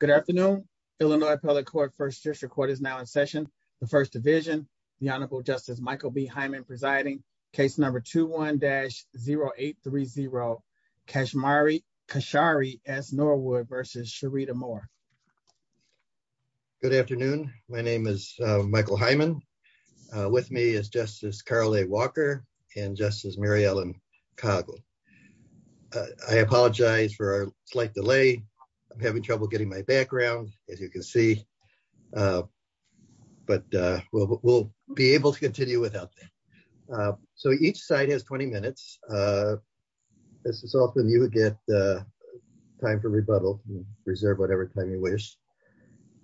Good afternoon, Illinois Public Court First District Court is now in session. The First Division, the Honorable Justice Michael B Hyman presiding case number 21 dash 0830 Kashmiri Kashari as Norwood versus Sharida more. Good afternoon. My name is Michael Hyman. With me is Justice Carly Walker and justice Mary Ellen cargo. I apologize for a slight delay. I'm having trouble getting my background, as you can see. But we'll be able to continue without. So each side has 20 minutes. This is often you get time for rebuttal, reserve whatever time you wish.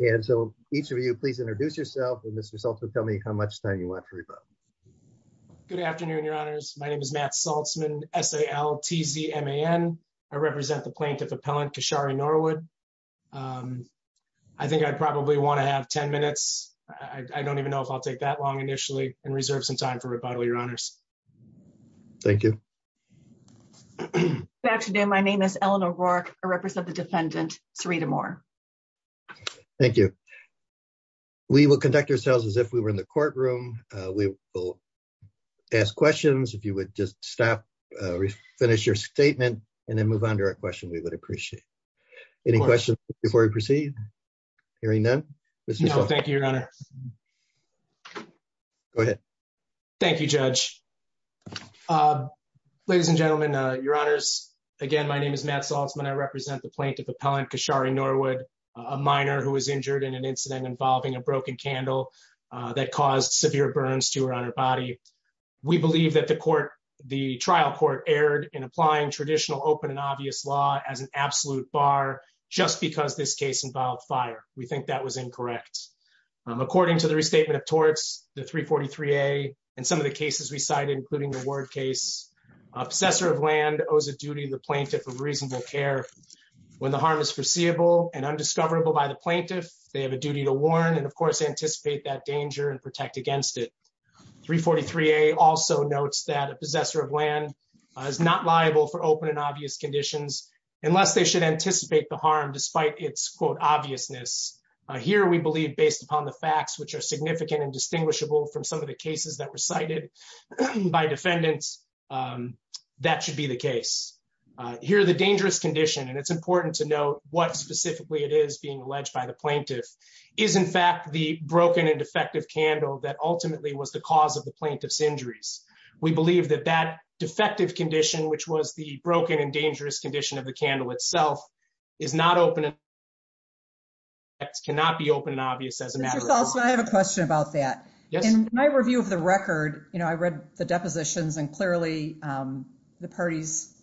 And so, each of you please introduce yourself and this result will tell me how much time you want to read about. Good afternoon, Your Honors. My name is Matt Saltzman sal TZ ma n. I represent the plaintiff appellant Kashari Norwood. I think I'd probably want to have 10 minutes. I don't even know if I'll take that long initially and reserve some time for rebuttal, Your Honors. Thank you. Actually, my name is Eleanor work, or represent the defendant, three to more. Thank you. We will conduct ourselves as if we were in the courtroom. We will ask questions if you would just stop. Finish your statement, and then move on to our question we would appreciate any questions before we proceed. Hearing them. Thank you, Your Honor. Thank you, Judge. Ladies and gentlemen, Your Honors. Again, my name is Matt Saltzman I represent the plaintiff appellant Kashari Norwood, a minor who was injured in an incident involving a broken candle that caused severe burns to her on her body. We believe that the court, the trial court erred in applying traditional open and obvious law as an absolute bar, just because this case involved fire, we think that was incorrect. According to the restatement of torts, the 343 a, and some of the cases we cited including the word case obsessor of land owes a duty the plaintiff of reasonable care. When the harm is foreseeable and undiscoverable by the plaintiff, they have a duty to warn and of course anticipate that danger and protect against it. 343 a also notes that a possessor of land is not liable for open and obvious conditions, unless they should anticipate the harm despite its quote obviousness. Here we believe based upon the facts which are significant and distinguishable from some of the cases that were cited by defendants. That should be the case here the dangerous condition and it's important to know what specifically it is being alleged by the plaintiff is in fact the broken and defective candle that ultimately was the cause of the plaintiff's injuries. We believe that that defective condition, which was the broken and dangerous condition of the candle itself is not open. It's cannot be open and obvious as a matter of course, I have a question about that. Yes. And my review of the record, you know, I read the depositions and clearly the parties.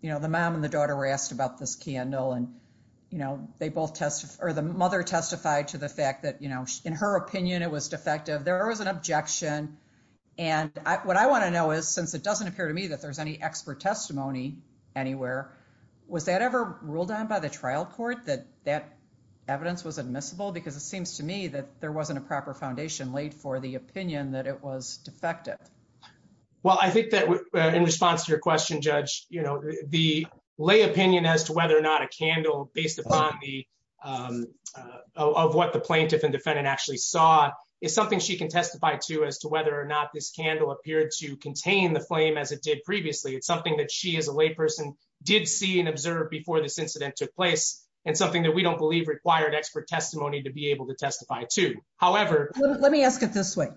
You know, the mom and the daughter were asked about this candle and, you know, they both test or the mother testified to the fact that, you know, in her opinion, it was defective. There was an objection. And what I want to know is, since it doesn't appear to me that there's any expert testimony anywhere was that ever ruled on by the trial court that that evidence was admissible because it seems to me that there wasn't a proper foundation laid for the opinion that it was defective. Well, I think that in response to your question judge, you know, the lay opinion as to whether or not a candle based upon the of what the plaintiff and defendant actually saw is something she can testify to as to whether or not this candle appeared to contain the flame as it did previously. It's something that she is a lay person did see and observe before this incident took place and something that we don't believe required expert testimony to be able to testify to. However, let me ask it this way.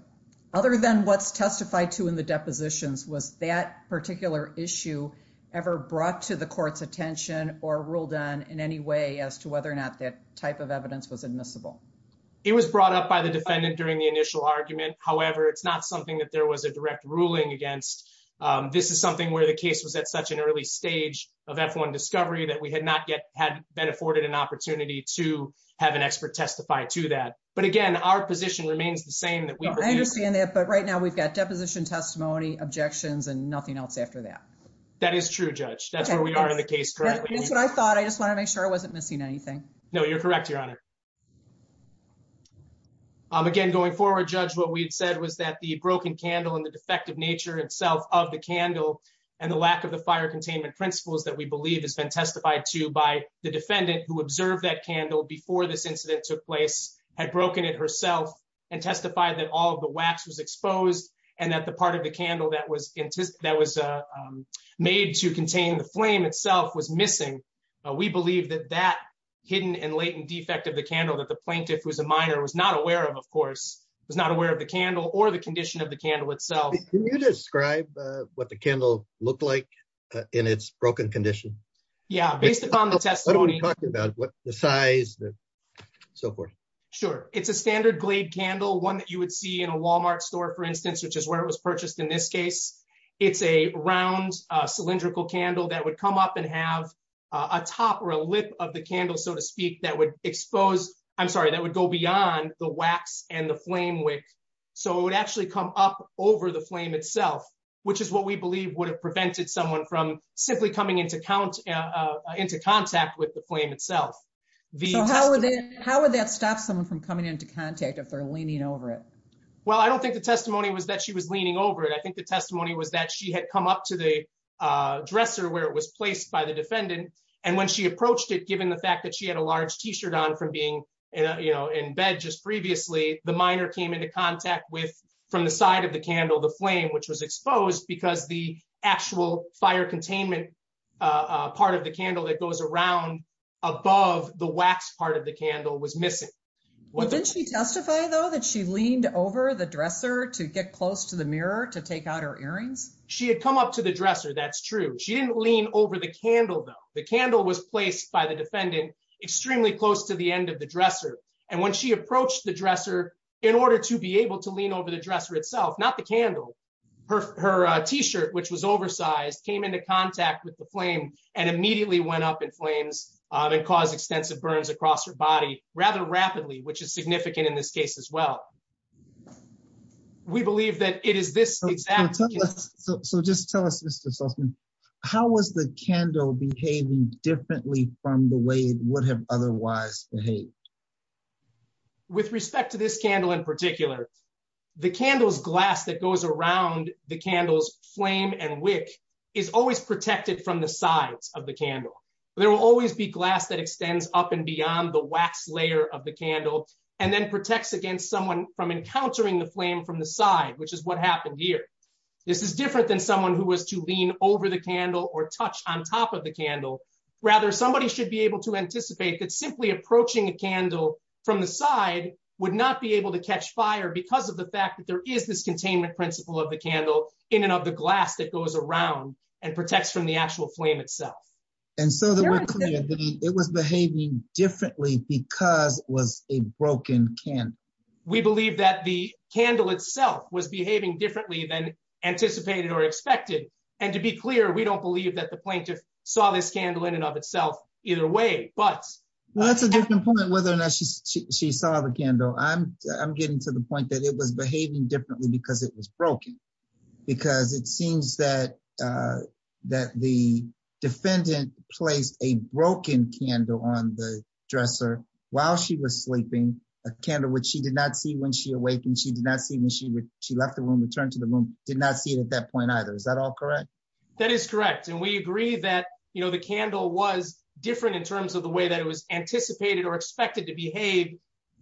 Other than what's testified to in the depositions was that particular issue ever brought to the court's attention or ruled on in any way as to whether or not that type of evidence was admissible. It was brought up by the defendant during the initial argument. However, it's not something that there was a direct ruling against. This is something where the case was at such an early stage of F1 discovery that we had not yet had been afforded an opportunity to have an expert testify to that. But again, our position remains the same that we understand that. But right now we've got deposition testimony objections and nothing else after that. That is true judge. That's where we are in the case. Correctly. That's what I thought. I just want to make sure I wasn't missing anything. No, you're correct. Your honor. Again, going forward judge what we'd said was that the broken candle and the defective nature itself of the candle and the lack of the fire containment principles that we believe has been testified to by the defendant who observed that candle before this incident took place had broken it herself and testified that all the wax was exposed and that the part of the candle that was that was made to contain the flame itself was missing. We believe that that hidden and latent defect of the candle that the plaintiff was a minor was not aware of, of course, was not aware of the candle or the condition of the candle itself. Can you describe what the candle looked like in its broken condition? Yeah, based upon the testimony. I don't want to talk about the size and so forth. Sure, it's a standard glade candle one that you would see in a Walmart store, for instance, which is where it was purchased in this case, it's a round cylindrical candle that would come up and have a top or a lip of the candle, so to speak, that would expose. I'm sorry, that would go beyond the wax and the flame wick. So it would actually come up over the flame itself, which is what we believe would have prevented someone from simply coming into count into contact with the flame itself. How would that stop someone from coming into contact if they're leaning over it? Well, I don't think the testimony was that she was leaning over it. I think the testimony was that she had come up to the dresser where it was placed by the defendant. And when she approached it, given the fact that she had a large T-shirt on from being in bed just previously, the minor came into contact with, from the side of the candle, the flame, which was exposed because the actual fire containment part of the candle that goes around above the wax part of the candle was missing. Didn't she testify, though, that she leaned over the dresser to get close to the mirror to take out her earrings? She had come up to the dresser, that's true. She didn't lean over the candle, though. The candle was placed by the defendant extremely close to the end of the dresser. And when she approached the dresser, in order to be able to lean over the dresser itself, not the candle, her T-shirt, which was oversized, came into contact with the flame and immediately went up in flames and caused extensive burns across her body rather rapidly, which is significant in this case as well. We believe that it is this exact case. So just tell us, Mr. Sussman, how was the candle behaving differently from the way it would have otherwise behaved? With respect to this candle in particular, the candle's glass that goes around the candle's flame and wick is always protected from the sides of the candle. There will always be glass that extends up and beyond the wax layer of the candle and then protects against someone from encountering the flame from the side, which is what happened here. This is different than someone who was to lean over the candle or touch on top of the candle. Rather, somebody should be able to anticipate that simply approaching a candle from the side would not be able to catch fire because of the fact that there is this containment principle of the candle in and of the glass that goes around and protects from the actual flame itself. And so it was behaving differently because it was a broken candle. We believe that the candle itself was behaving differently than anticipated or expected. And to be clear, we don't believe that the plaintiff saw this candle in and of itself either way. Well, that's a different point whether or not she saw the candle. I'm getting to the point that it was behaving differently because it was broken. Because it seems that the defendant placed a broken candle on the dresser while she was sleeping, a candle which she did not see when she awakened, she did not see when she left the room, returned to the room, did not see it at that point either. Is that all correct? That is correct. And we agree that, you know, the candle was different in terms of the way that it was anticipated or expected to behave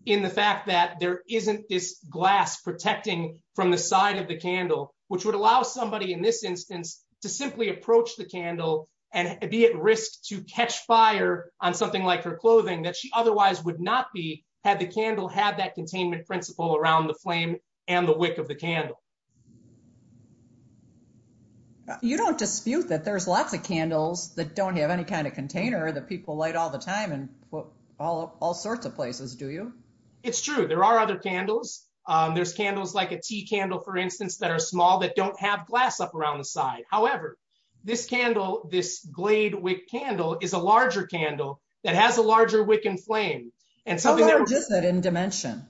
in the fact that there isn't this glass protecting from the side of the candle, which would allow somebody in this instance to simply approach the candle and be at risk to catch fire on something like her clothing that she otherwise would not be had the candle had that containment principle around the flame and the wick of the candle. You don't dispute that there's lots of candles that don't have any kind of container that people light all the time and all sorts of places, do you? It's true. There are other candles. There's candles like a tea candle, for instance, that are small that don't have glass up around the side. However, this candle, this glade wick candle is a larger candle that has a larger wick and flame. How large is it in dimension?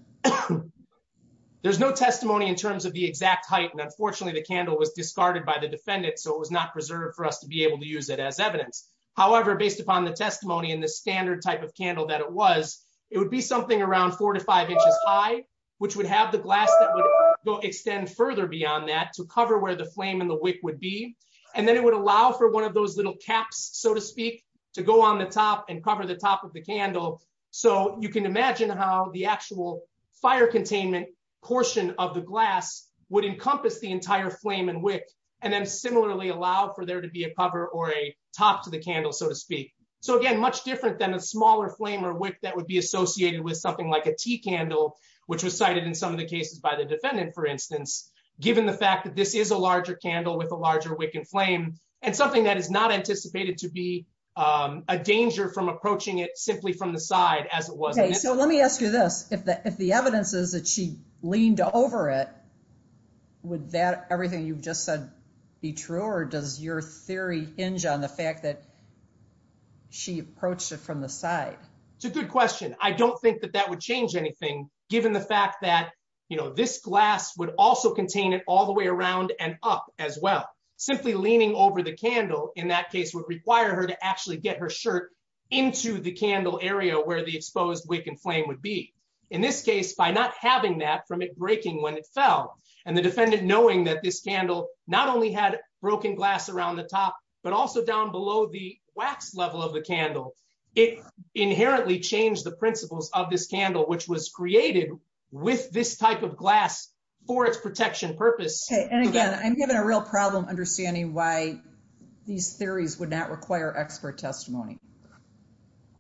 There's no testimony in terms of the exact height. And unfortunately, the candle was discarded by the defendant. So it was not preserved for us to be able to use it as evidence. However, based upon the testimony and the standard type of candle that it was, it would be something around four to five inches high, which would have the glass that would go extend further beyond that to cover where the flame and the wick would be. And then it would allow for one of those little caps, so to speak, to go on the top and cover the top of the candle. So you can imagine how the actual fire containment portion of the glass would encompass the entire flame and wick. And then similarly allow for there to be a cover or a top to the candle, so to speak. So again, much different than a smaller flame or wick that would be associated with something like a tea candle, which was cited in some of the cases by the defendant, for instance, given the fact that this is a larger candle with a larger wick and flame and something that is not anticipated to be a danger from approaching it simply from the side as it was. Okay, so let me ask you this. If the evidence is that she leaned over it, would that everything you've just said be true or does your theory hinge on the fact that she approached it from the side? It's a good question. I don't think that that would change anything, given the fact that, you know, this glass would also contain it all the way around and up as well. Simply leaning over the candle in that case would require her to actually get her shirt into the candle area where the exposed wick and flame would be. In this case, by not having that from it breaking when it fell and the defendant knowing that this candle not only had broken glass around the top, but also down below the wax level of the candle, it inherently changed the principles of this candle, which was created with this type of glass for its protection purpose. And again, I'm given a real problem understanding why these theories would not require expert testimony.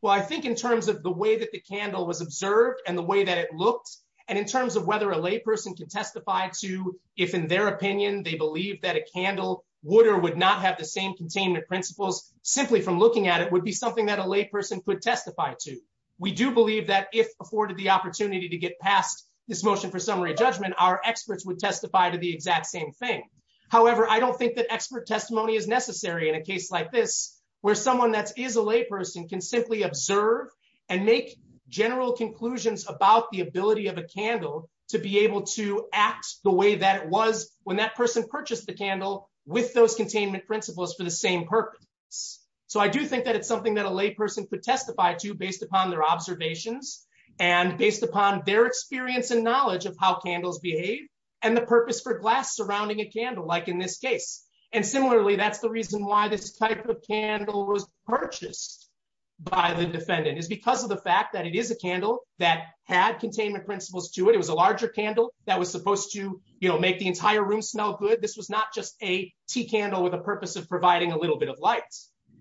Well, I think in terms of the way that the candle was observed and the way that it looked, and in terms of whether a layperson can testify to if, in their opinion, they believe that a candle would or would not have the same containment principles, simply from looking at it would be something that a layperson could testify to. We do believe that if afforded the opportunity to get past this motion for summary judgment, our experts would testify to the exact same thing. However, I don't think that expert testimony is necessary in a case like this, where someone that is a layperson can simply observe and make general conclusions about the ability of a candle to be able to act the way that it was when that person purchased the candle with those containment principles for the same purpose. So I do think that it's something that a layperson could testify to based upon their observations and based upon their experience and knowledge of how candles behave and the purpose for glass surrounding a candle like in this case. And similarly, that's the reason why this type of candle was purchased by the defendant is because of the fact that it is a candle that had containment principles to it. It was a larger candle that was supposed to make the entire room smell good. This was not just a tea candle with a purpose of providing a little bit of light.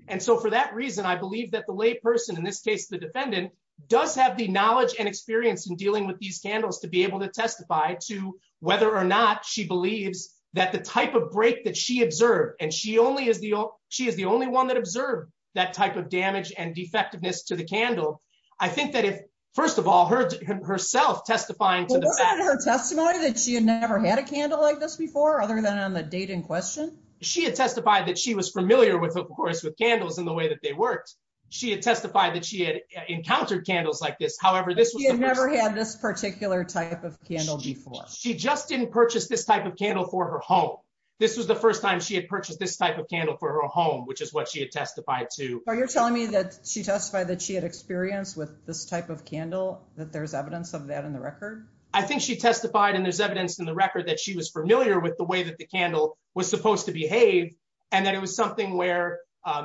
And so for that reason, I believe that the layperson in this case, the defendant does have the knowledge and experience in dealing with these candles to be able to testify to whether or not she believes that the type of break that she observed and she only is the she is the only one that observed that type of damage and defectiveness to the candle. I think that if, first of all, her herself testifying to her testimony that she had never had a candle like this before, other than on the date in question, she had testified that she was familiar with, of course, with candles and the way that they worked. She had testified that she had encountered candles like this. However, this was never had this particular type of candle before she just didn't purchase this type of candle for her home. This was the first time she had purchased this type of candle for her home, which is what she had testified to. Are you telling me that she testified that she had experience with this type of candle that there's evidence of that in the record? I think she testified and there's evidence in the record that she was familiar with the way that the candle was supposed to behave. And then it was something where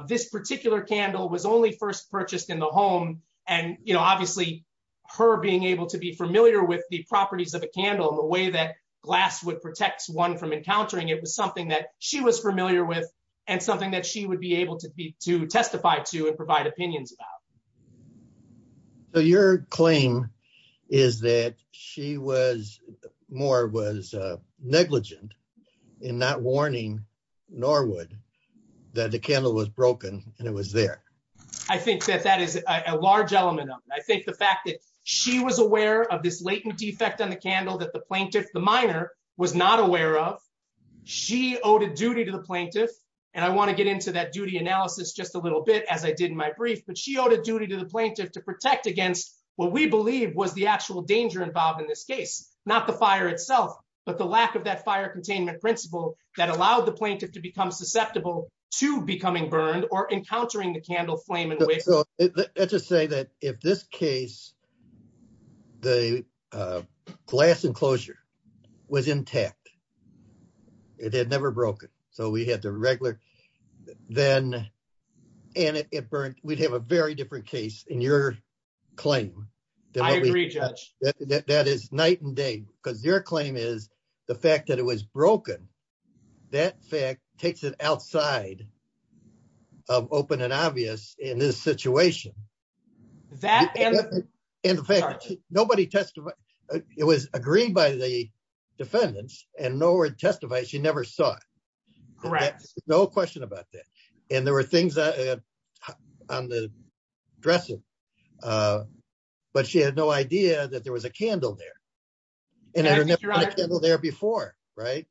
this particular candle was only first purchased in the home. And, you know, obviously, her being able to be familiar with the properties of a candle and the way that glass would protect one from encountering it was something that she was familiar with, and something that she would be able to be to testify to and provide opinions about. So your claim is that she was more was negligent in not warning Norwood that the candle was broken and it was there. I think that that is a large element of it. I think the fact that she was aware of this latent defect on the candle that the plaintiff, the minor, was not aware of. She owed a duty to the plaintiff. And I want to get into that duty analysis just a little bit as I did in my brief, but she owed a duty to the plaintiff to protect against what we believe was the actual danger involved in this case, not the fire itself, but the lack of that fire containment principle that allowed the plaintiff to become susceptible to becoming burned or encountering the candle flame. Let's just say that if this case, the glass enclosure was intact, it had never broken. So we had the regular, then, and it burned, we'd have a very different case in your claim. That is night and day, because your claim is the fact that it was broken. That fact takes it outside of open and obvious in this situation. In fact, nobody testified. It was agreed by the defendants, and Norwood testified she never saw it. Correct. No question about that. And there were things on the dressing. But she had no idea that there was a candle there. And I remember there before. Right.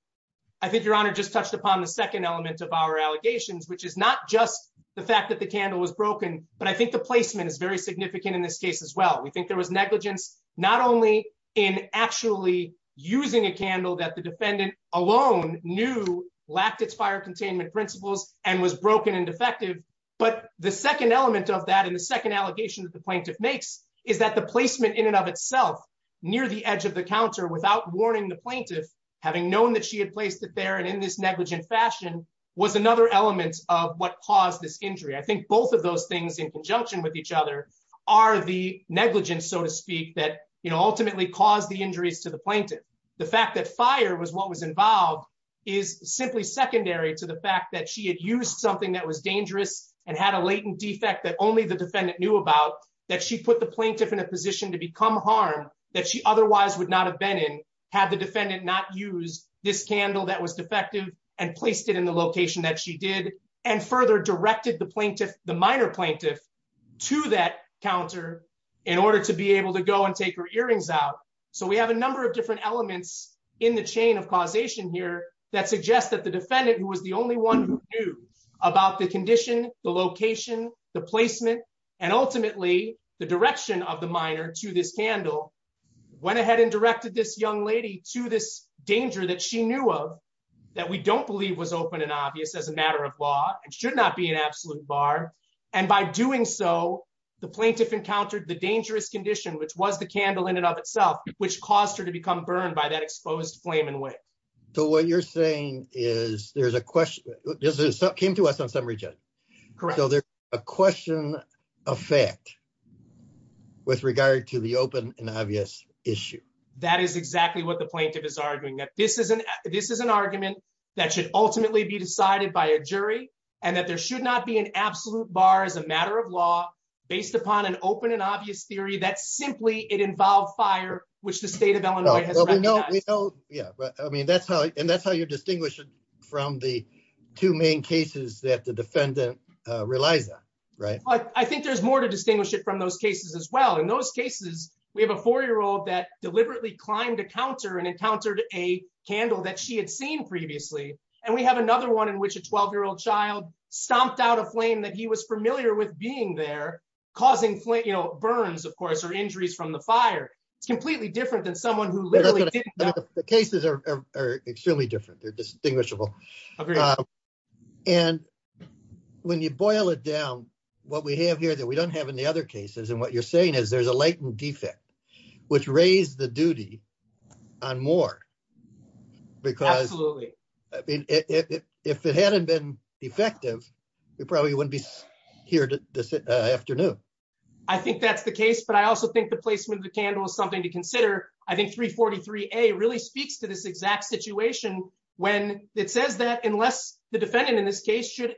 I think Your Honor just touched upon the second element of our allegations, which is not just the fact that the candle was broken, but I think the placement is very significant in this case as well. We think there was negligence, not only in actually using a candle that the defendant alone knew lacked its fire containment principles and was broken and defective. But the second element of that and the second allegation that the plaintiff makes is that the placement in and of itself, near the edge of the counter without warning the plaintiff, having known that she had placed it there and in this negligent fashion, was another element of what caused this injury. I think both of those things in conjunction with each other are the negligence, so to speak, that ultimately caused the injuries to the plaintiff. The fact that fire was what was involved is simply secondary to the fact that she had used something that was dangerous and had a latent defect that only the defendant knew about, that she put the plaintiff in a position to become harm that she otherwise would not have been in had the defendant not used this candle that was defective and placed it in the location that she did and further directed the minor plaintiff to that counter in order to be able to go and take her earrings out. So we have a number of different elements in the chain of causation here that suggests that the defendant who was the only one who knew about the condition, the location, the placement, and ultimately the direction of the minor to this candle went ahead and directed this young lady to this danger that she knew of that we don't believe was open and obvious as a matter of law and should not be an absolute bar. And by doing so, the plaintiff encountered the dangerous condition, which was the candle in and of itself, which caused her to become burned by that exposed flame and way. So what you're saying is there's a question. This is something to us on some region. Correct. So there's a question of fact with regard to the open and obvious issue. That is exactly what the plaintiff is arguing that this is an this is an argument that should ultimately be decided by a jury, and that there should not be an absolute bar as a matter of law, based upon an open and obvious theory that simply it involved fire, which the state of Illinois. Yeah, but I mean, that's how and that's how you distinguish it from the two main cases that the defendant relies on. Right. I think there's more to distinguish it from those cases as well. In those cases, we have a four year old that deliberately climbed a counter and encountered a candle that she had seen previously. And we have another one in which a 12 year old child stomped out a flame that he was familiar with being there, causing flames, you know, burns, of course, or injuries from the fire. It's completely different than someone who literally. The cases are extremely different. They're distinguishable. And when you boil it down, what we have here that we don't have any other cases and what you're saying is there's a latent defect, which raised the duty on more. Because, I mean, if it hadn't been effective, we probably wouldn't be here this afternoon. I think that's the case, but I also think the placement of the candle is something to consider. I think 343 a really speaks to this exact situation when it says that unless the defendant in this case should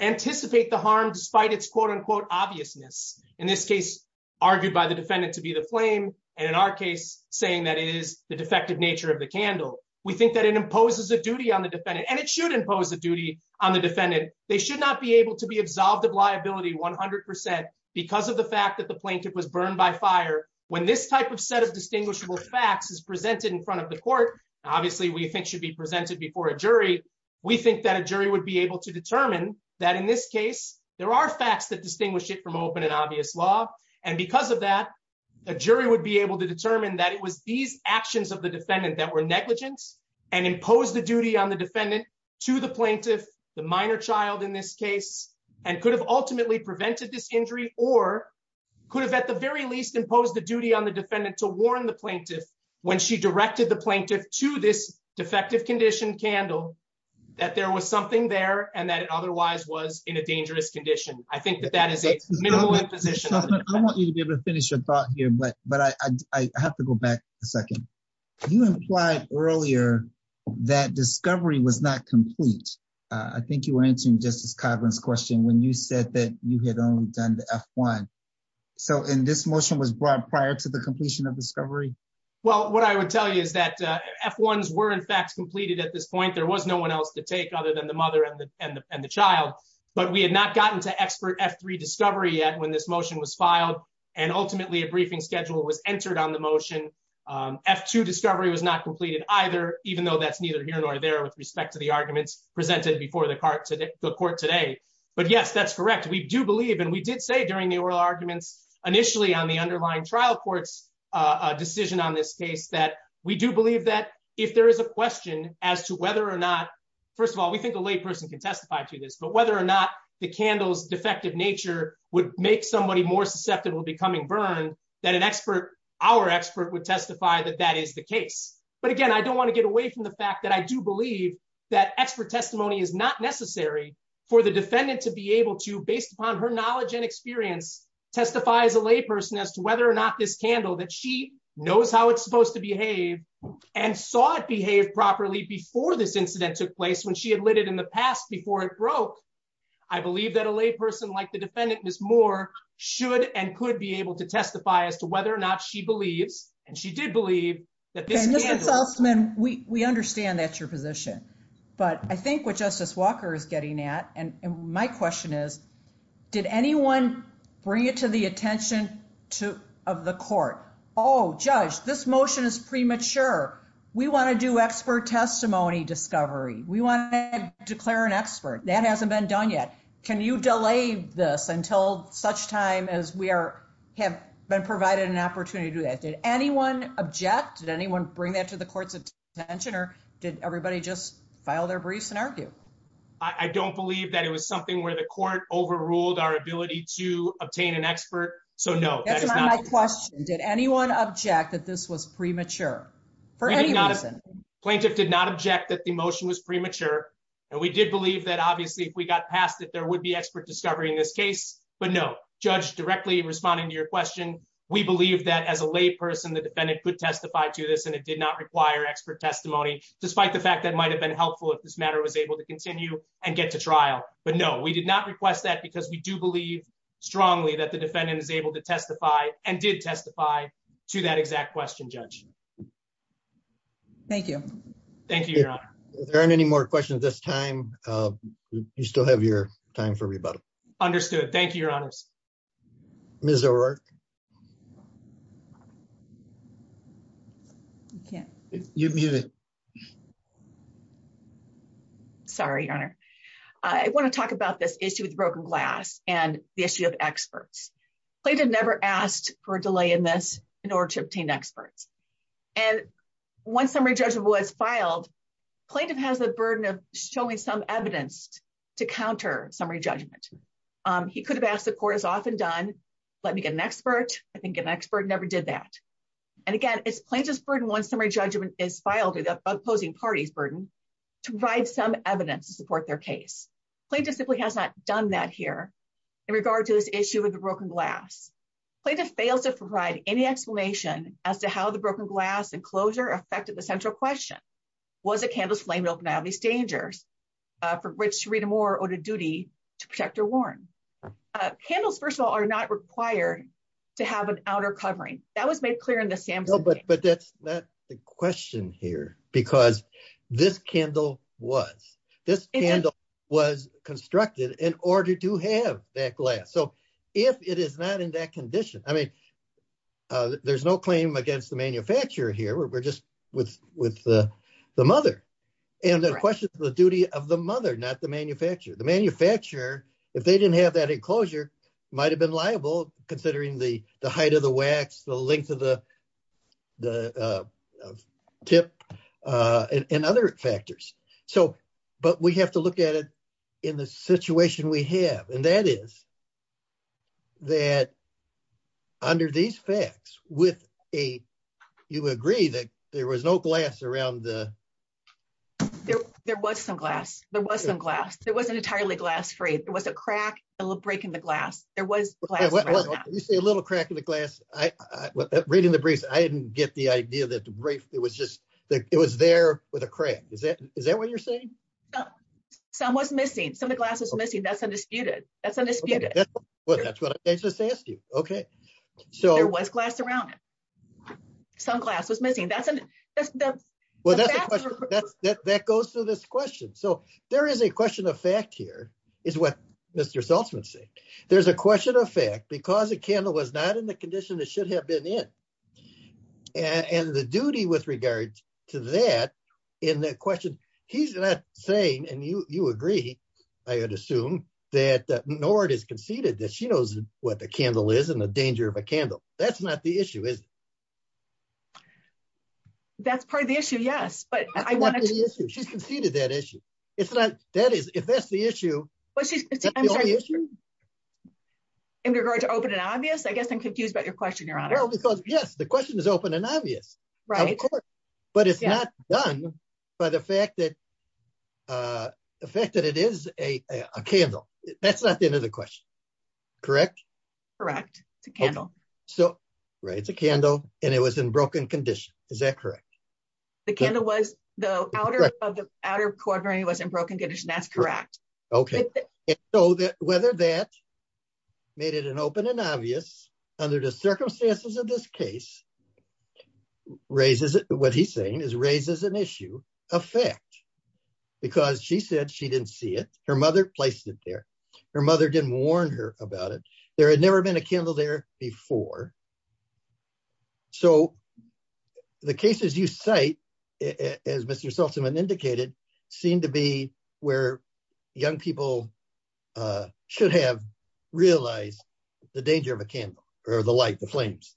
anticipate the harm despite its quote unquote obviousness. In this case, argued by the defendant to be the flame. And in our case, saying that is the defective nature of the candle. We think that it imposes a duty on the defendant and it should impose a duty on the defendant, they should not be able to be absolved of liability 100%. Because of the fact that the plaintiff was burned by fire. When this type of set of distinguishable facts is presented in front of the court. Obviously, we think should be presented before a jury. We think that a jury would be able to determine that in this case, there are facts that distinguish it from open and obvious law. And because of that, the jury would be able to determine that it was these actions of the defendant that were negligence and impose the duty on the defendant to the plaintiff. The minor child in this case, and could have ultimately prevented this injury, or could have at the very least impose the duty on the defendant to warn the plaintiff when she directed the plaintiff to this defective condition candle that there was something there, and that otherwise was in a dangerous condition. I think that that is a position I want you to be able to finish your thought here but but I have to go back a second. You implied earlier that discovery was not complete. I think you were answering just as Congress question when you said that you had only done the one. So in this motion was brought prior to the completion of discovery. Well, what I would tell you is that F ones were in fact completed at this point there was no one else to take other than the mother and the, and the child, but we had not gotten to expert f3 discovery yet when this motion was filed, and ultimately a briefing schedule was entered on the motion. F2 discovery was not completed, either, even though that's neither here nor there with respect to the arguments presented before the cart to the court today. But yes, that's correct. We do believe and we did say during the oral arguments, initially on the underlying trial courts decision on this case that we do believe that if there is a question as to whether or not. First of all, we think the layperson can testify to this but whether or not the candles defective nature would make somebody more susceptible becoming burn that an expert, our expert would testify that that is the case. But again, I don't want to get away from the fact that I do believe that expert testimony is not necessary for the defendant to be able to based upon her knowledge and experience testifies a layperson as to whether or not this candle that she knows how it's supposed to behave and saw it behave properly before this incident took place when she had lit it in the past before it broke. I believe that a layperson like the defendant is more should and could be able to testify as to whether or not she believes, and she did believe that this gentleman, we understand that your position. But I think what Justice Walker is getting at and my question is, did anyone bring it to the attention to have the court. Oh, judge this motion is premature. We want to do expert testimony discovery, we want to declare an expert that hasn't been done yet. Can you delay this until such time as we are have been provided an opportunity to do that did anyone object did anyone bring that to the court's attention or did everybody just file their briefs and argue. I don't believe that it was something where the court overruled our ability to obtain an expert. So no question did anyone object that this was premature for any reason plaintiff did not object that the motion was premature. And we did believe that obviously if we got past that there would be expert discovery in this case, but no judge directly responding to your question. We believe that as a lay person the defendant could testify to this and it did not require expert testimony, despite the fact that might have been helpful if this matter was able to continue and get to trial, but no we did not request that because we do believe strongly that the defendant is able to testify, and did testify to that exact question judge. Thank you. Thank you. There aren't any more questions this time. You still have your time for rebuttal. Understood. Thank you, Your Honor. Mr. Yeah, you. Sorry, I want to talk about this issue with broken glass, and the issue of experts. Never asked for delay in this in order to obtain experts. And once summary judgment was filed plaintiff has a burden of showing some evidence to counter summary judgment. He could have asked the court is often done. Let me get an expert, I think an expert never did that. And again, it's plaintiff's burden once summary judgment is filed opposing parties burden to provide some evidence to support their case plaintiff simply has not done that here. In regard to this issue with the broken glass plaintiff fails to provide any explanation as to how the broken glass and closure affected the central question. Was a canvas flame open now these dangers for which Rita more or duty to protect or warn candles first of all are not required to have an outer covering that was made clear in the sample but but that's not the question here, because this candle was this with with the mother. And the question is the duty of the mother not the manufacturer the manufacturer, if they didn't have that enclosure might have been liable, considering the, the height of the wax the length of the tip, and other factors. So, but we have to look at it in the situation we have and that is that under these facts with a. You agree that there was no glass around the. There was some glass, there was some glass, there wasn't entirely glass free, there was a crack, a little break in the glass, there was a little crack in the glass, I reading the briefs I didn't get the idea that the brief, it was just that it was there with a crack, is that, is that what you're saying. Some was missing some of the glasses missing that's undisputed that's undisputed. Well, that's what I just asked you. Okay. So what's glass around. Some glass was missing. That's, that's, that's, that goes to this question. So, there is a question of fact here is what Mr saltzman say there's a question of fact because the candle was not in the condition that should have been in. And the duty with regards to that in the question. He's not saying and you, you agree, I assume that Nord is conceded that she knows what the candle is and the danger of a candle. That's not the issue is. That's part of the issue yes but I want to see that issue. It's not that is if that's the issue. In regards to open and obvious I guess I'm confused about your question your honor because yes the question is open and obvious. Right. But it's not done by the fact that the fact that it is a candle. That's not the end of the question. Correct, correct to candle. So, right it's a candle, and it was in broken condition. Is that correct. The candle was the outer of the outer quarter he was in broken condition. That's correct. Okay. So that whether that made it an open and obvious under the circumstances of this case, raises it, what he's saying is raises an issue of fact, because she said she didn't see it, her mother placed it there. Her mother didn't warn her about it. There had never been a candle there before. So, the cases you say, as Mr Sultzman indicated, seem to be where young people should have realized the danger of a candle, or the light the flames,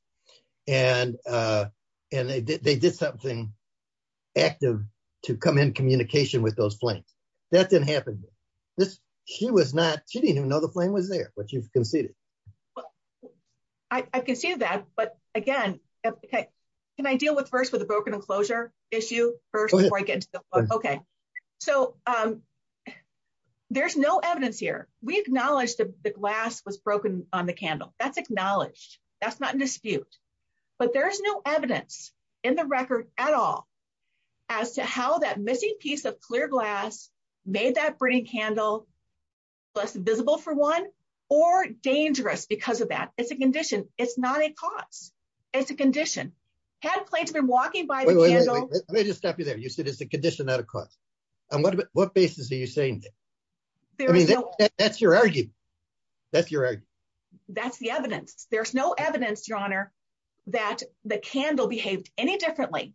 and, and they did something active to come in communication with those flames that didn't happen. She was not, she didn't even know the flame was there, but you've conceded. I can see that, but again, can I deal with first with a broken enclosure issue first before I get into the book. Okay, so there's no evidence here, we acknowledge the glass was broken on the candle, that's acknowledged, that's not in dispute. But there's no evidence in the record at all. As to how that missing piece of clear glass made that burning candle less visible for one, or dangerous because of that, it's a condition, it's not a cause. It's a condition had plates been walking by. Let me just stop you there you said it's a condition not a cause. And what about what basis are you saying. That's your argument. That's the evidence, there's no evidence your honor that the candle behaved any differently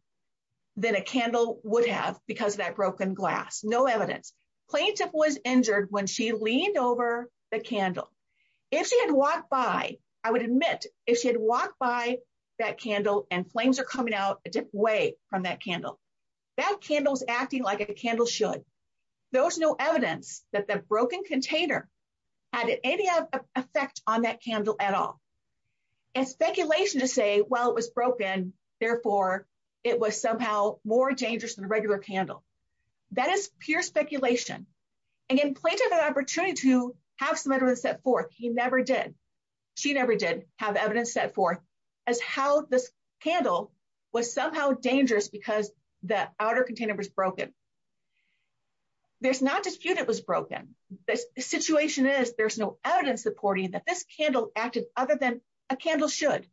than a candle would have because that broken glass no evidence plaintiff was injured when she leaned over the candle. If she had walked by, I would admit, if she had walked by that candle and flames are coming out a different way from that candle that candles acting like a candle should. There was no evidence that the broken container added any effect on that candle at all. It's speculation to say, well it was broken. Therefore, it was somehow more dangerous than a regular candle. That is pure speculation. Again plaintiff an opportunity to have some evidence set forth he never did. She never did have evidence set forth as how this candle was somehow dangerous because the outer container was broken. There's not dispute it was broken. This situation is there's no evidence supporting that this candle acted, other than a candle should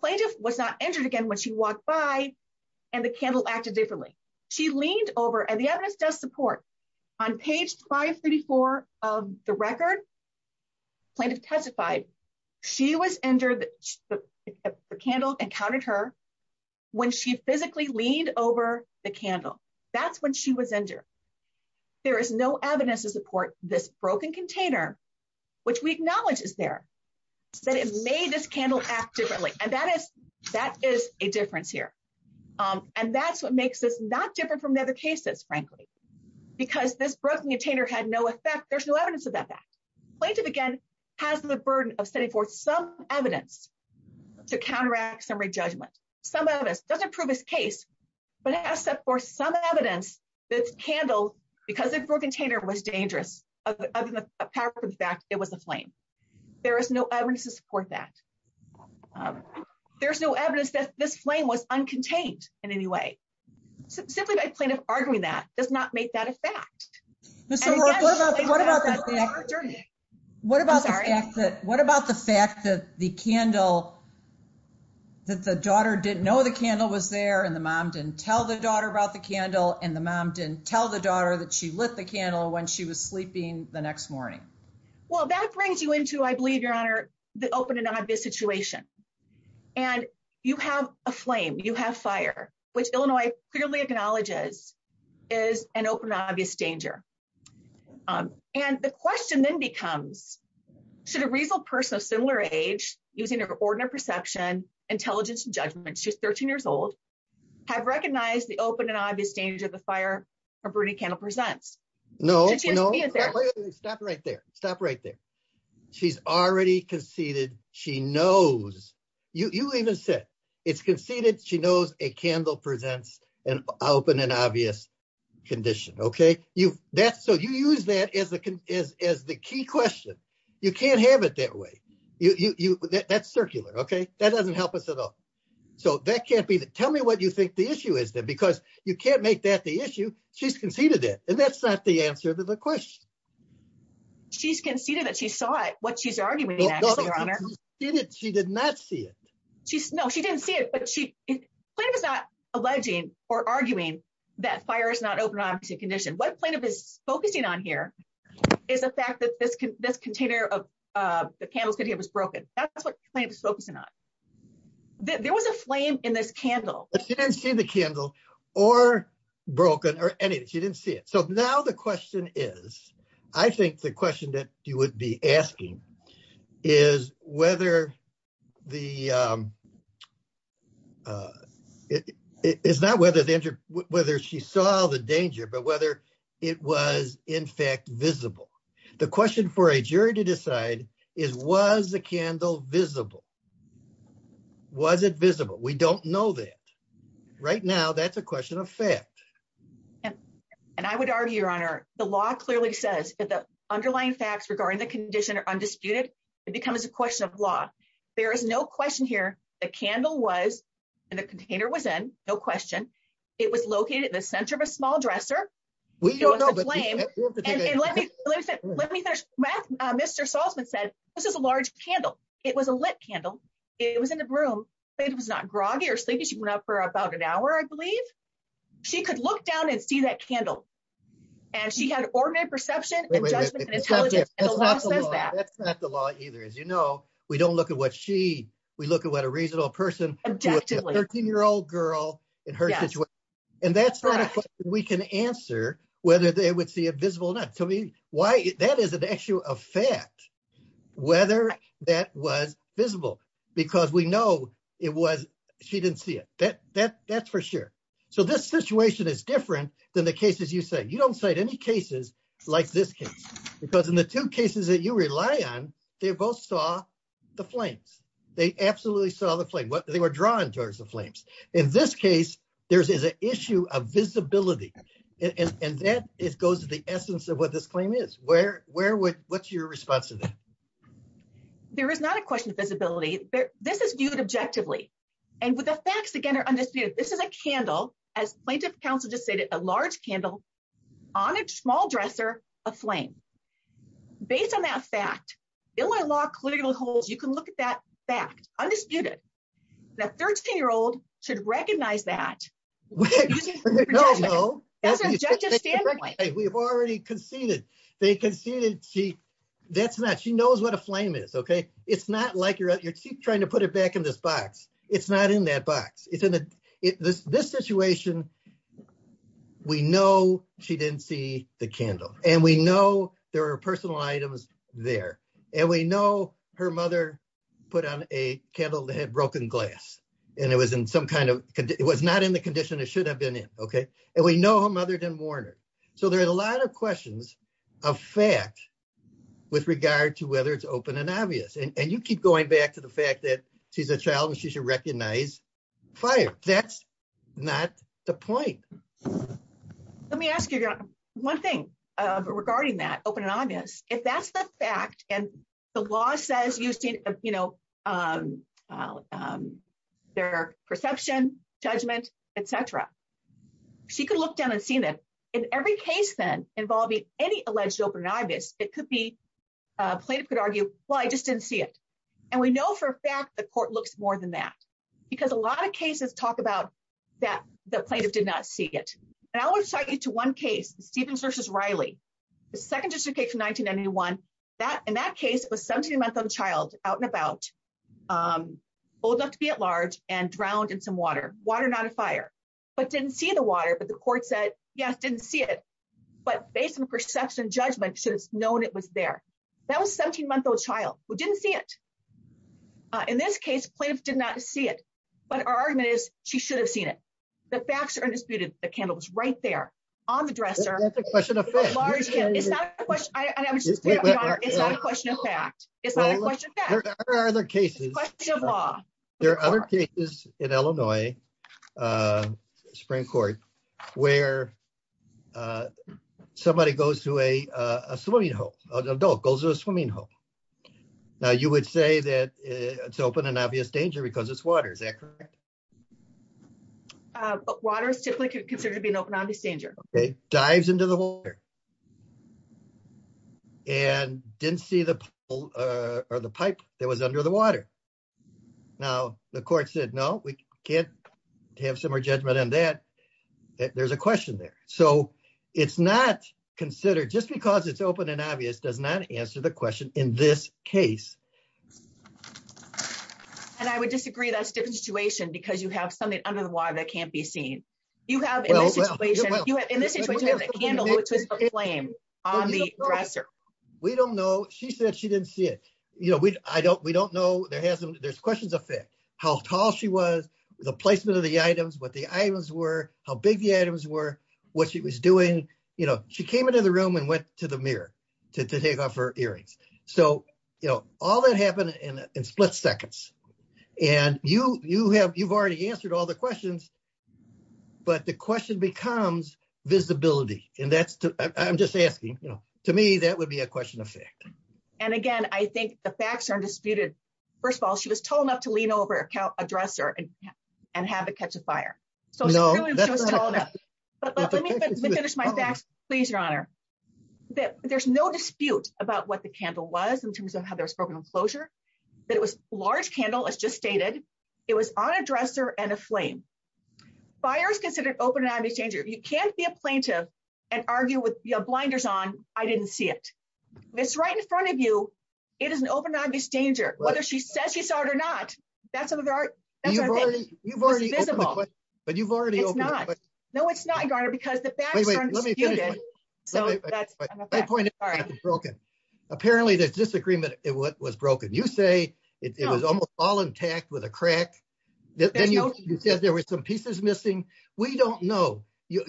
plaintiff was not injured again when she walked by. And the candle acted differently. She leaned over and the evidence does support on page 534 of the record. Plaintiff testified. She was injured the candle encountered her. When she physically leaned over the candle. That's when she was injured. There is no evidence to support this broken container, which we acknowledge is there said it made this candle act differently and that is that is a difference here. And that's what makes us not different from other cases, frankly, because this broken container had no effect there's no evidence of that that plaintiff again has the burden of setting forth some evidence to counteract summary judgment. Some of us doesn't prove his case, but has set forth some evidence that's handled, because it for container was dangerous. In fact, it was a flame. There is no evidence to support that. There's no evidence that this flame was uncontained in any way. Simply by plaintiff arguing that does not make that a fact. What about what about the fact that the candle. That the daughter didn't know the candle was there and the mom didn't tell the daughter about the candle and the mom didn't tell the daughter that she lit the candle when she was sleeping the next morning. Well, that brings you into I believe your honor, the open and obvious situation. And you have a flame you have fire, which Illinois, clearly acknowledges is an open obvious danger. And the question then becomes, should a reasonable person of similar age, using your ordinary perception intelligence judgment she's 13 years old, have recognized the open and obvious danger of the fire for Bernie candle presents. No, no. Stop right there. Stop right there. She's already conceded she knows you even said it's conceded she knows a candle presents an open and obvious condition. Okay, you that's so you use that as a, as, as the key question. You can't have it that way. You that's circular. Okay, that doesn't help us at all. So that can't be that tell me what you think the issue is that because you can't make that the issue. She's conceded it, and that's not the answer to the question. She's conceded that she saw it what she's arguing. She did not see it. She's no she didn't see it but she is not alleging or arguing that fire is not open on condition what plaintiff is focusing on here is the fact that this can this container of the candles that he was broken. That's what I'm focusing on. There was a flame in this candle, and see the candle or broken or anything she didn't see it so now the question is, I think the question that you would be asking is whether the it's not whether the injured, whether she saw the danger but whether it was, in fact, visible. The question for a jury to decide is was the candle visible wasn't visible we don't know that right now that's a question of fact. And I would argue your honor, the law clearly says that the underlying facts regarding the condition or undisputed, it becomes a question of law. There is no question here, the candle was in the container was in no question. It was located in the center of a small dresser. We don't blame. Let me, let me finish with Mr Saltzman said, this is a large candle. It was a lit candle. It was in the room. It was not groggy or sleepy she went up for about an hour I believe she could look down and see that candle. And she had an ordinary perception. That's not the law either as you know, we don't look at what she, we look at what a reasonable person, 13 year old girl in her situation. And that's what we can answer, whether they would see a visible not to me, why that is an issue of fact, whether that was visible, because we know it was, she didn't see it that that that's for sure. So this situation is different than the cases you say you don't say to any cases like this case, because in the two cases that you rely on, they both saw the flames, they absolutely saw the flame what they were drawn towards the flames. In this case, there's is an issue of visibility. And that is goes to the essence of what this claim is where, where would, what's your response to that. There is not a question of visibility, but this is viewed objectively. And with the facts again are understood, this is a candle, as plaintiff counsel just stated a large candle on a small dresser, a flame. Based on that fact, Illinois law clearly holds you can look at that fact, undisputed that 13 year old should recognize that. No, no. We've already conceded, they can see that she that's not she knows what a flame is okay, it's not like you're trying to put it back in this box. It's not in that box, it's in this situation. We know she didn't see the candle, and we know there are personal items there. And we know her mother put on a candle that had broken glass, and it was in some kind of, it was not in the condition it should have been in. Okay. And we know her mother didn't warn her. So there are a lot of questions of fact, with regard to whether it's open and obvious and you keep going back to the fact that she's a child and she should recognize fire. That's not the point. Let me ask you one thing regarding that open and obvious, if that's the fact, and the law says you see, you know, She could look down and see that in every case then involving any alleged open obvious, it could be played could argue, well I just didn't see it. And we know for a fact the court looks more than that, because a lot of cases talk about that the plaintiff did not see it. And I will show you to one case, Stevens versus Riley. The second justification 1991 that in that case was 17 month old child out and about old enough to be at large, and drowned in some water, water, not a fire, but didn't see the water but the court said, Yes, didn't see it. But based on perception judgment should have known it was there. That was 17 month old child who didn't see it. In this case, please did not see it. But our argument is, she should have seen it. The facts are disputed the candles right there on the dresser. It's not a question. It's not a question of fact, it's not a question. There are other cases. There are other cases in Illinois. Spring Court, where somebody goes to a swimming hole, adult goes to a swimming hole. Now you would say that it's open and obvious danger because it's water is accurate. But water is typically considered to be an open obvious danger. Okay, dives into the water. And didn't see the or the pipe that was under the water. Now, the court said no, we can't have similar judgment on that. There's a question there. So, it's not considered just because it's open and obvious does not answer the question in this case. And I would disagree that's different situation because you have something under the water that can't be seen. You have in this situation, you have a candle flame on the dresser. We don't know she said she didn't see it. You know, we, I don't we don't know there hasn't there's questions affect how tall she was the placement of the items what the items were how big the items were what she was doing, you know, she came into the room and went to the mirror to take off her earrings. So, you know, all that happened in split seconds. And you, you have you've already answered all the questions. But the question becomes visibility, and that's I'm just asking, you know, to me that would be a question of fact. And again, I think the facts are disputed. First of all, she was tall enough to lean over a dresser and and have a catch a fire. But let me finish my facts, please, Your Honor, that there's no dispute about what the candle was in terms of how there's broken enclosure. That was large candle is just stated. It was on a dresser and a flame fires considered open and I'm a stranger, you can't be a plaintiff and argue with your blinders on, I didn't see it. It's right in front of you. It is an open obvious danger, whether she says you saw it or not. That's what you've already but you've already. No, it's not going to because the. So, that's my point. Apparently there's disagreement. It was broken. You say it was almost all intact with a crack. Then you said there were some pieces missing. We don't know.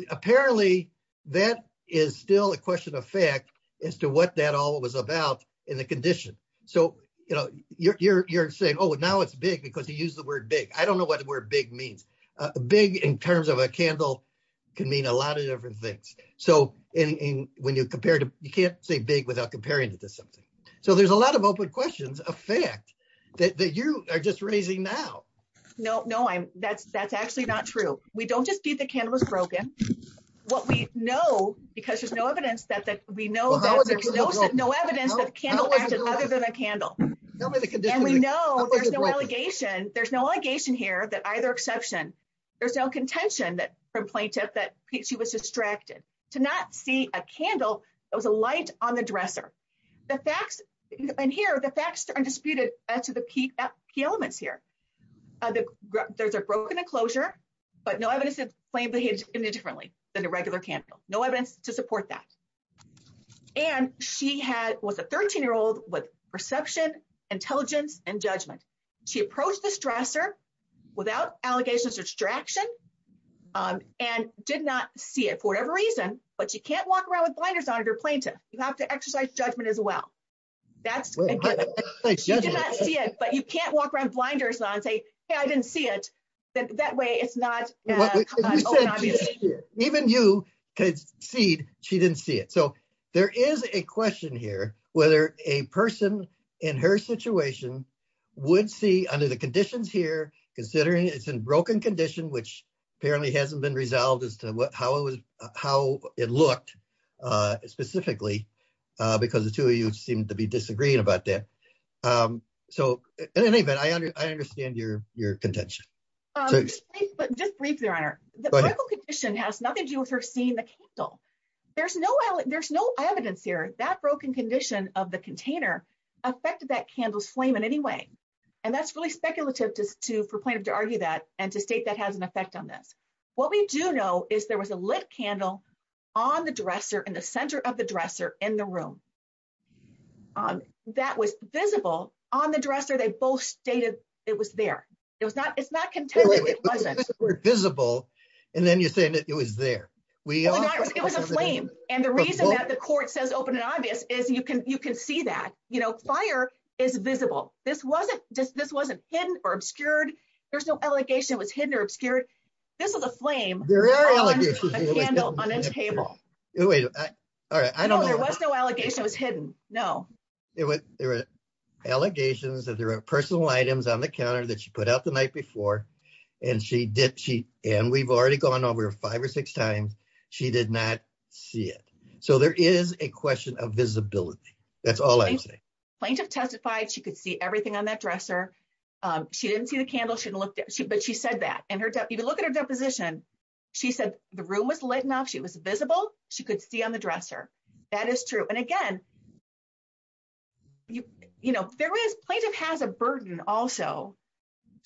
Apparently, that is still a question of fact, as to what that all was about in the condition. So, you know, you're saying, oh, now it's big because he used the word big. I don't know what the word big means big in terms of a candle can mean a lot of different things. So, when you compare to, you can't say big without comparing it to something. So there's a lot of open questions of fact that you are just raising now. No, no, I'm that's that's actually not true. We don't just keep the cameras broken. What we know, because there's no evidence that that we know that there's no evidence that candle candle. We know there's no allegation, there's no allegation here that either exception. There's no contention that from plaintiff that she was distracted to not see a candle. It was a light on the dresser. The facts in here, the facts are disputed as to the key elements here. There's a broken enclosure, but no evidence of plain behavior differently than a regular candle. No evidence to support that. And she had was a 13 year old with perception, intelligence and judgment. She approached the stressor without allegations of distraction, and did not see it for whatever reason, but you can't walk around with blinders on your plaintiff, you have to exercise judgment as well. That's it, but you can't walk around blinders on say, I didn't see it. That way it's not. Even you could see, she didn't see it. So there is a question here, whether a person in her situation would see under the conditions here, considering it's in broken condition, which apparently hasn't been resolved as to how it was, how it looked. Specifically, because the 2 of you seem to be disagreeing about that. So, in any event, I understand your, your contention. But just briefly runner, the condition has nothing to do with her seeing the candle. There's no, there's no evidence here that broken condition of the container affected that candles flame in any way. And that's really speculative to for plaintiff to argue that and to state that has an effect on this. What we do know is there was a lit candle on the dresser in the center of the dresser in the room. That was visible on the dresser. They both stated it was there. It was not. It's not contended. It wasn't visible. And then you're saying that it was there. It was a flame. And the reason that the court says open and obvious is you can you can see that, you know, fire is visible. This wasn't just this wasn't hidden or obscured. There's no allegation was hidden or obscured. This is a flame. On a table. All right, I don't know there was no allegation was hidden. No, it was allegations that there are personal items on the counter that she put out the night before. And she did she, and we've already gone over five or six times. She did not see it. So there is a question of visibility. That's all I'm saying plaintiff testified she could see everything on that dresser. She didn't see the candle she looked at she but she said that and her to even look at her deposition. She said, the room was lit enough she was visible, she could see on the dresser. That is true. And again, you know, there is plaintiff has a burden also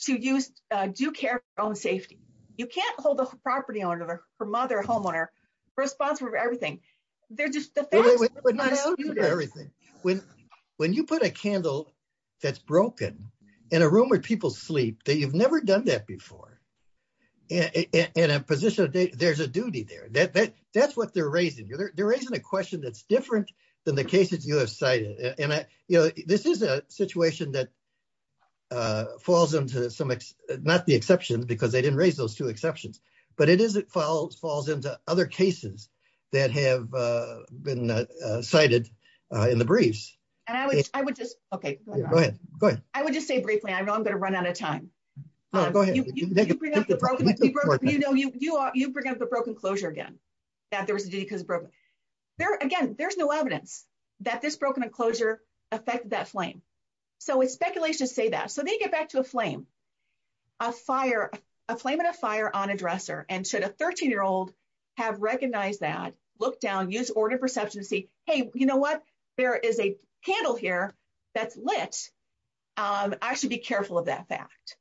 to use do care own safety. You can't hold a property owner for mother homeowner responsible for everything. They're just everything. When, when you put a candle. That's broken in a room where people sleep that you've never done that before. In a position of day, there's a duty there that that that's what they're raising you they're raising a question that's different than the cases you have cited, and I, you know, this is a situation that falls into some, not the exception because they didn't raise those two exceptions, but it is it falls falls into other cases that have been cited in the briefs, and I would, I would just, okay, go ahead, go ahead, I would just say briefly I'm going to run out of time. You know you are you bring up the broken closure again that there was a because there again there's no evidence that this broken enclosure effect that flame. So it's speculation say that so they get back to a flame, a fire, a flame and a fire on a dresser and should a 13 year old have recognized that look down use order for substance see, hey, you know what, there is a handle here. That's lit. I should be careful of that fact.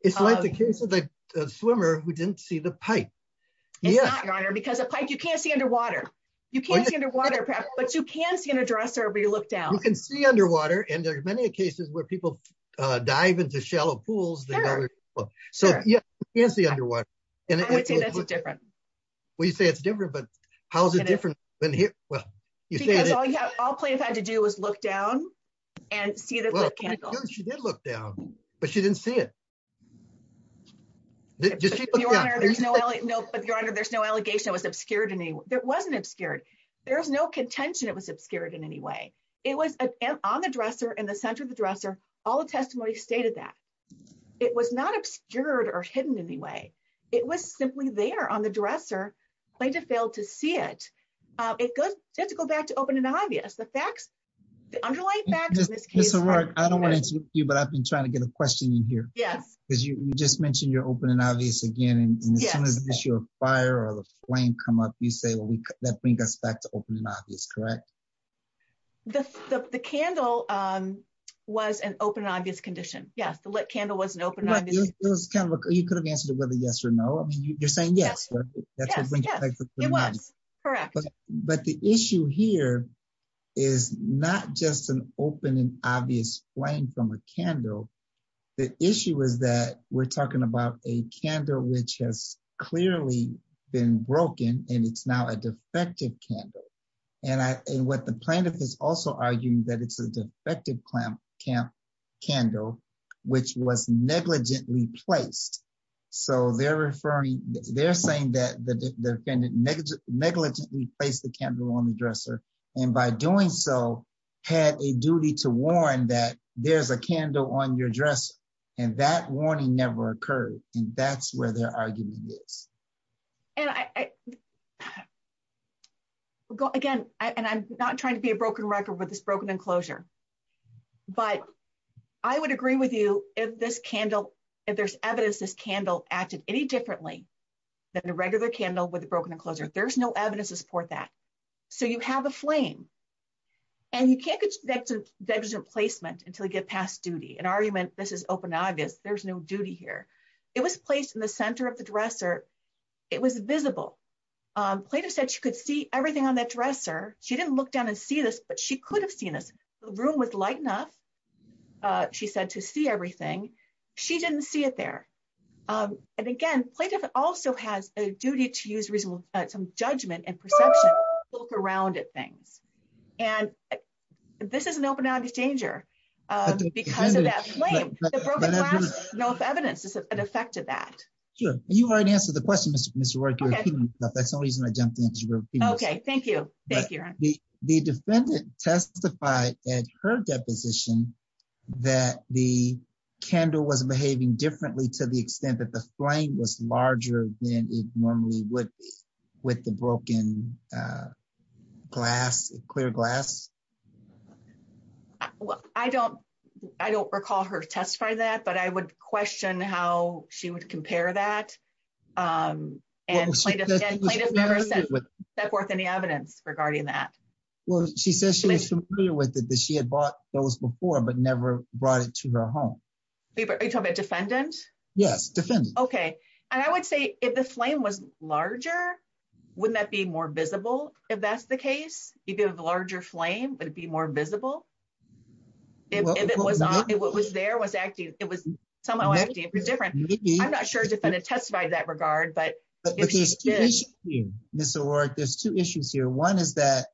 It's like the case of the swimmer who didn't see the pipe. Yeah, because a pipe you can't see underwater. You can't see underwater, but you can see an address or we look down and see underwater and there's many cases where people dive into shallow pools. So, yeah, is the underwater. And it's different. We say it's different but how's it different than here. Well, all you have to do is look down and see that she did look down, but she didn't see it. No, but your honor there's no allegation was obscured and it wasn't obscured. There's no contention it was obscured in any way. It was on the dresser in the center of the dresser all the testimony stated that it was not obscured or hidden anyway. It was simply there on the dresser, played to fail to see it. It goes to go back to open and obvious the facts. The underlying back to this case. I don't want to you but I've been trying to get a question in here. Yes, because you just mentioned you're open and obvious again and as soon as your fire or the flame come up you say that bring us back to open and obvious correct. The candle was an open obvious condition. Yes, the candle was an open. You could have answered it with a yes or no you're saying yes. Correct. But the issue here is not just an open and obvious playing from a candle. The issue is that we're talking about a candle which has clearly been broken, and it's now a defective candle. And I, and what the plaintiff is also arguing that it's a defective clamp camp candle, which was negligently placed. So they're referring, they're saying that the defendant negligently place the camera on the dresser. And by doing so, had a duty to warn that there's a candle on your dress, and that warning never occurred. And that's where their argument is. And I go again, and I'm not trying to be a broken record with this broken enclosure. But I would agree with you, if this candle. If there's evidence this candle acted any differently than a regular candle with a broken enclosure, there's no evidence to support that. So you have a flame. And you can't get a placement until you get past duty and argument, this is open obvious there's no duty here. It was placed in the center of the dresser. It was visible plaintiff said she could see everything on that dresser, she didn't look down and see this but she could have seen this room was light enough. She said to see everything. She didn't see it there. And again, plaintiff also has a duty to use reasonable some judgment and perception, look around at things. And this is an open and exchanger. Because of that. No evidence is an effect of that. Sure, you already answered the question. That's the reason I jumped into. Okay, thank you. Thank you. The defendant testified at her deposition that the candle was behaving differently to the extent that the flame was larger than it normally would be with the broken glass clear glass. Well, I don't, I don't recall her test for that but I would question how she would compare that. And with that worth any evidence regarding that. Well, she says she was familiar with it that she had bought those before but never brought it to her home. Defendant. Yes, defend. Okay. And I would say, if the flame was larger. Wouldn't that be more visible. If that's the case, you give a larger flame, but it'd be more visible. If it was, it was there was acting, it was somehow different. I'm not sure if it had testified that regard but there's two issues here. One is that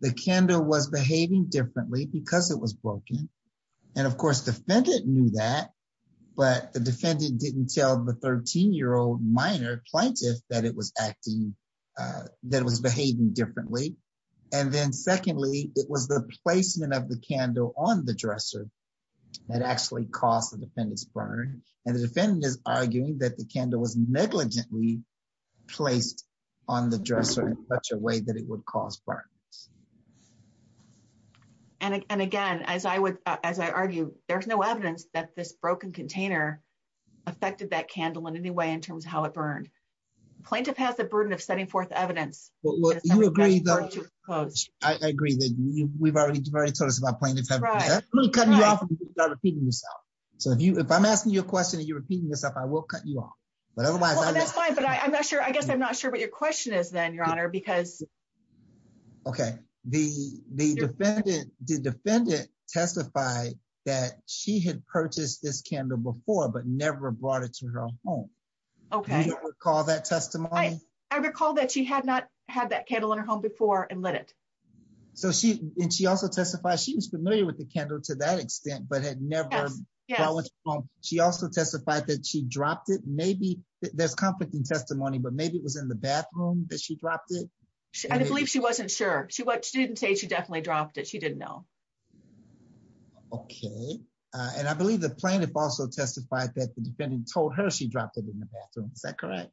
the candle was behaving differently because it was broken. And of course defendant knew that, but the defendant didn't tell the 13 year old minor plaintiff that it was acting that was behaving differently. And then secondly, it was the placement of the candle on the dresser that actually caused the defendants burn, and the defendant is arguing that the candle was negligently placed on the dresser in such a way that it would cause burns. And again, as I would, as I argue, there's no evidence that this broken container affected that candle in any way in terms of how it burned plaintiff has the burden of setting forth evidence. You agree that I agree that we've already told us about plenty of time. So if you if I'm asking you a question and you're repeating yourself I will cut you off. But otherwise, I'm not sure I guess I'm not sure what your question is then your honor because. Okay, the, the defendant did defendant testified that she had purchased this candle before but never brought it to her home. Okay, call that testimony. I recall that she had not had that candle in her home before and let it. So she, and she also testified she was familiar with the candle to that extent but had never. She also testified that she dropped it maybe there's conflicting testimony but maybe it was in the bathroom that she dropped it. I believe she wasn't sure she what she didn't say she definitely dropped it she didn't know. Okay, and I believe the plaintiff also testified that the defendant told her she dropped it in the bathroom. Is that correct.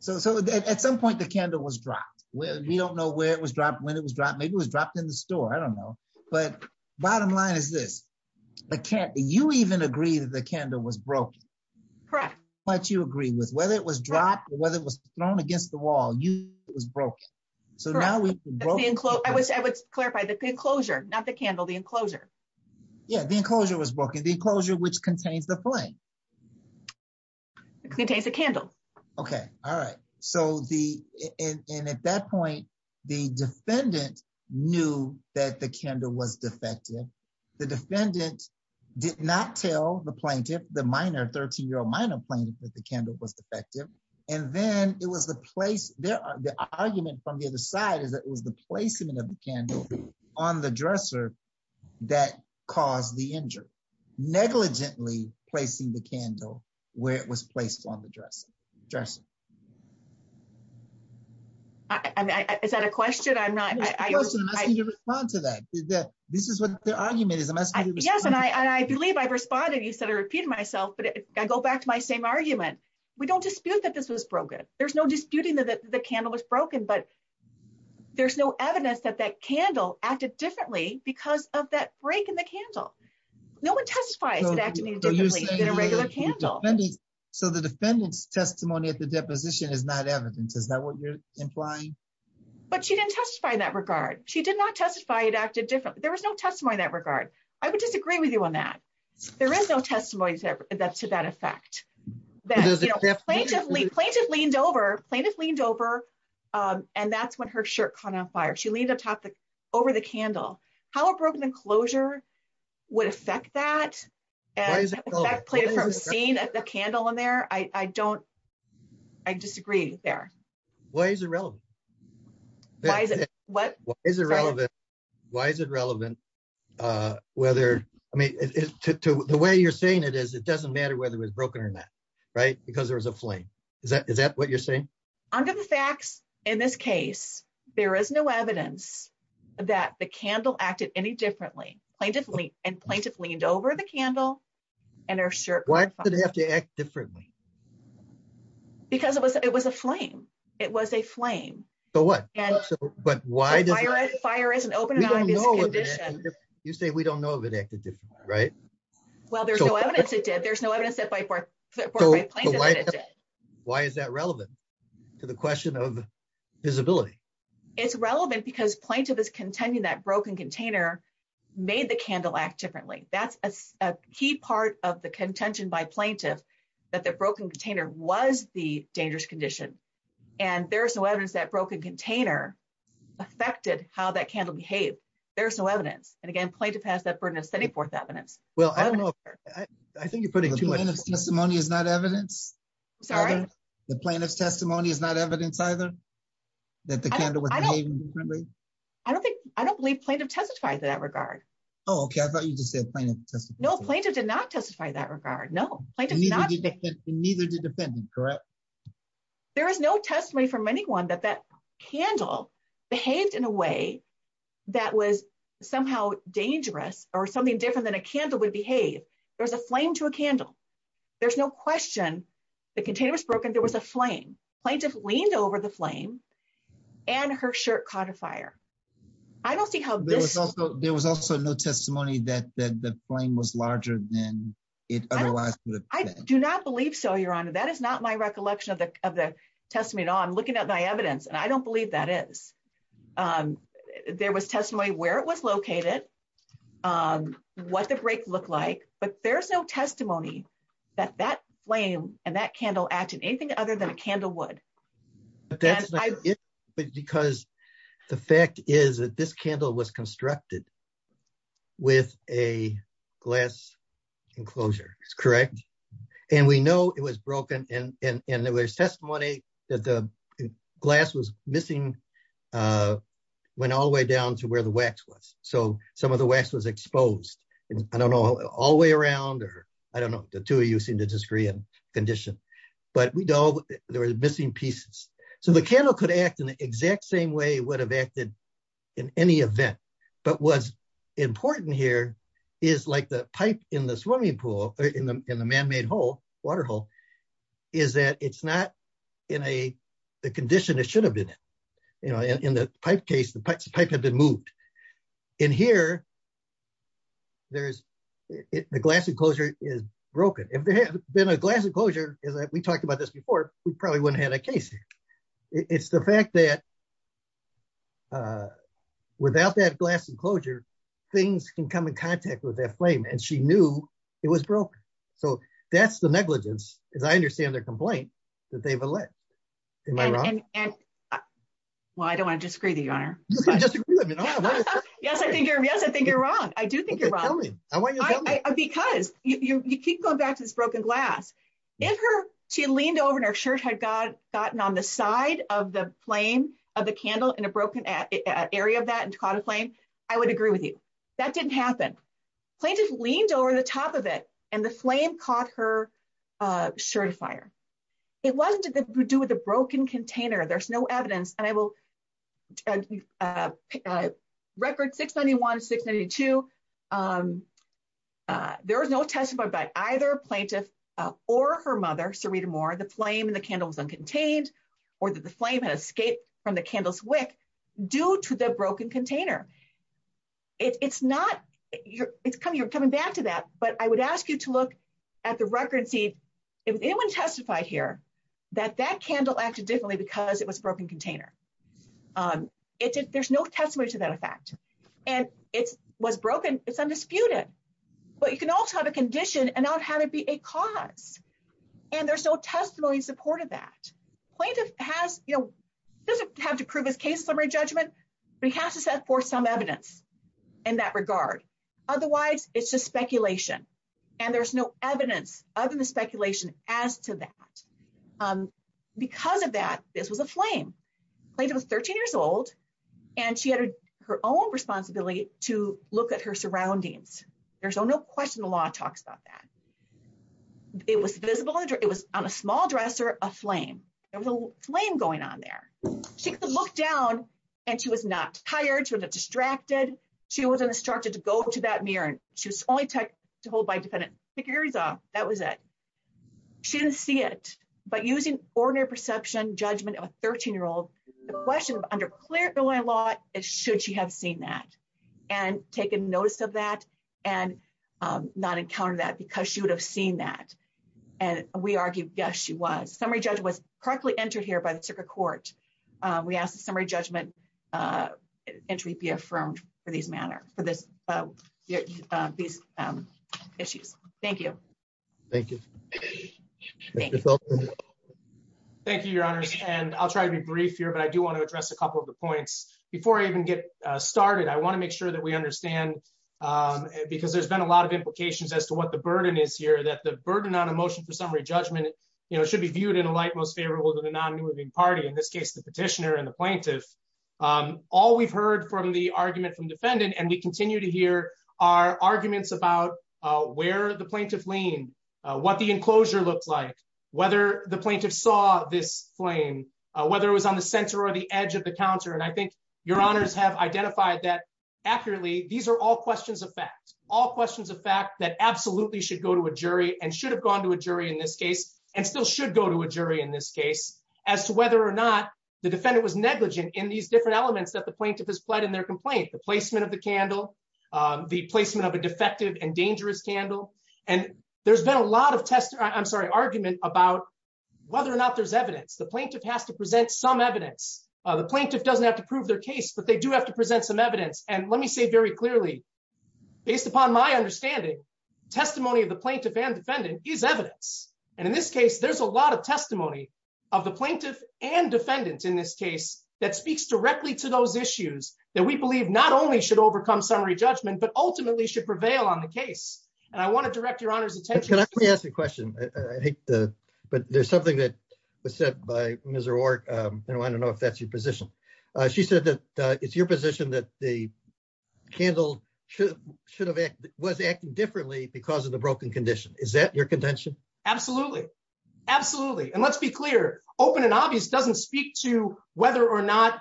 So so at some point the candle was dropped. Well, we don't know where it was dropped when it was dropped maybe was dropped in the store I don't know, but bottom line is this. I can't you even agree that the candle was broken. Correct. But you agree with whether it was dropped, whether it was thrown against the wall you was broken. So now we include I wish I would clarify the enclosure, not the candle the enclosure. Yeah, the enclosure was broken the enclosure which contains the flame contains a candle. Okay. All right. So the end at that point, the defendant knew that the candle was defective. The defendant did not tell the plaintiff, the minor 13 year old minor playing with the candle was defective. And then it was the place there are the argument from the other side is that it was the placement of the candle on the dresser. That caused the injured negligently placing the candle, where it was placed on the dress dress. Is that a question I'm not going to respond to that. This is what the argument is. Yes, and I believe I've responded you said I repeat myself but I go back to my same argument. We don't dispute that this was broken. There's no disputing that the candle was broken but there's no evidence that that candle acted differently because of that break in the candle. No one testifies. So the defendants testimony at the deposition is not evidence is that what you're implying. But she didn't testify in that regard, she did not testify it acted different, there was no testimony that regard. I would disagree with you on that. There is no testimonies that to that effect that plaintiff leaned over plaintiff leaned over. And that's when her shirt caught on fire she leaned up top the over the candle, how a broken enclosure would affect that. Seeing the candle in there, I don't. I disagree there. Why is it relevant. Why is it what is irrelevant. Why is it relevant. Whether, I mean, to the way you're saying it is it doesn't matter whether it was broken or not. Right, because there was a flame. Is that is that what you're saying. I'm going to fax. In this case, there is no evidence that the candle acted any differently plaintiff Lee and plaintiff leaned over the candle and her shirt. Why did he have to act differently. Because it was, it was a flame. It was a flame. So what. But why does fire is an open. You say we don't know if it acted right. Well there's no evidence it did there's no evidence that by birth. Why is that relevant to the question of visibility. It's relevant because plaintiff is contending that broken container made the candle act differently. That's a key part of the contention by plaintiff that the broken container was the dangerous condition. And there's no evidence that broken container affected how that candle behave. There's no evidence, and again play to pass that furnace any fourth evidence. Well, I don't know. I think you're putting too much testimony is not evidence. Sorry, the plaintiff's testimony is not evidence either. That the candle. I don't think I don't believe plaintiff testified that regard. Okay, I thought you just said plaintiff. No plaintiff did not testify that regard no neither the defendant correct. There is no testimony from anyone that that candle behaved in a way that was somehow dangerous, or something different than a candle would behave. There's a flame to a candle. There's no question. The container was broken there was a flame plaintiff leaned over the flame, and her shirt caught a fire. I don't see how there was also no testimony that that the flame was larger than it. I do not believe so your honor that is not my recollection of the of the testament on looking at my evidence and I don't believe that is. There was testimony where it was located. What the break look like, but there's no testimony that that flame, and that candle acted anything other than a candle would. Because the fact is that this candle was constructed with a glass enclosure is correct. And we know it was broken, and there was testimony that the glass was missing. Went all the way down to where the wax was, so some of the West was exposed. I don't know all the way around or I don't know the two of you seem to disagree and condition, but we don't, there was missing pieces. So the candle could act in the exact same way would have acted in any event, but was important here is like the pipe in the swimming pool in the man made whole waterhole. Is that it's not in a condition that should have been, you know, in the pipe case the pipe pipe had been moved in here. There's the glass enclosure is broken if there had been a glass enclosure is that we talked about this before, we probably wouldn't have a case. It's the fact that without that glass enclosure, things can come in contact with that flame and she knew it was broken. So, that's the negligence. Yes, because I understand their complaint that they will let me run. Well, I don't want to disagree the honor. Yes, I think you're yes I think you're wrong. I do think you're wrong. Because you keep going back to this broken glass in her, she leaned over and her shirt had got gotten on the side of the plane of the candle in a broken area of that and caught a plane. I would agree with you. That didn't happen. Plaintiff leaned over the top of it, and the flame caught her shirt fire. It wasn't that we do with a broken container there's no evidence, and I will record 691 692. There was no testimony by either plaintiff, or her mother Serena more the flame and the candles uncontained, or the flame has escaped from the candles wick, due to the broken container. It's not your, it's coming you're coming back to that, but I would ask you to look at the record see if anyone testified here that that candle actually differently because it was broken container. There's no testimony to that effect, and it was broken, it's undisputed. But you can also have a condition and not have it be a cause. And there's no testimony supported that plaintiff has, you know, doesn't have to prove his case summary judgment, but he has to set forth some evidence in that regard. Otherwise, it's just speculation. And there's no evidence, other than speculation, as to that. Because of that, this was a flame plate was 13 years old, and she had her own responsibility to look at her surroundings. There's no question the law talks about that. It was visible under it was on a small dresser, a flame, flame going on there. She could look down, and she was not hired to get distracted. She wasn't instructed to go to that mirror, she was only tech to hold by defendant figures off. That was it. She didn't see it, but using ordinary perception judgment of a 13 year old. The question under clear going a lot, it should she have seen that and taken notice of that, and not encounter that because she would have seen that. And we argue, yes, she was summary judge was correctly entered here by the circuit court. We asked the summary judgment entry be affirmed for these manner for this. These issues. Thank you. Thank you. Thank you, Your Honor, and I'll try to be brief here but I do want to address a couple of the points before I even get started I want to make sure that we understand. Because there's been a lot of implications as to what the burden is here that the burden on emotion for summary judgment, you know, should be viewed in a light most favorable to the non moving party in this case the petitioner and the plaintiff. All we've heard from the argument from defendant and we continue to hear our arguments about where the plaintiff lean what the enclosure looks like, whether the plaintiff saw this flame, whether it was on the center or the edge of the counter and I think your honors have identified that accurately. These are all questions of fact, all questions of fact that absolutely should go to a jury and should have gone to a jury in this case, and still should go to a jury in this case, as to whether or not the defendant was negligent in these different elements that the plaintiff has pled in their complaint the placement of the candle. The placement of a defective and dangerous candle, and there's been a lot of tests, I'm sorry argument about whether or not there's evidence the plaintiff has to present some evidence of the plaintiff doesn't have to prove their case but they do have to present some evidence and let me say very clearly, based upon my understanding, testimony of the plaintiff and defendant is evidence. And in this case there's a lot of testimony of the plaintiff and defendants in this case that speaks directly to those issues that we believe not only should overcome summary judgment but ultimately should prevail on the case, and I want to direct your honor's attention. Can I ask a question. But there's something that was said by Mr or, you know, I don't know if that's your position. She said that it's your position that the candle should should have was acting differently because of the broken condition. Is that your contention. Absolutely. Absolutely. And let's be clear, open and obvious doesn't speak to whether or not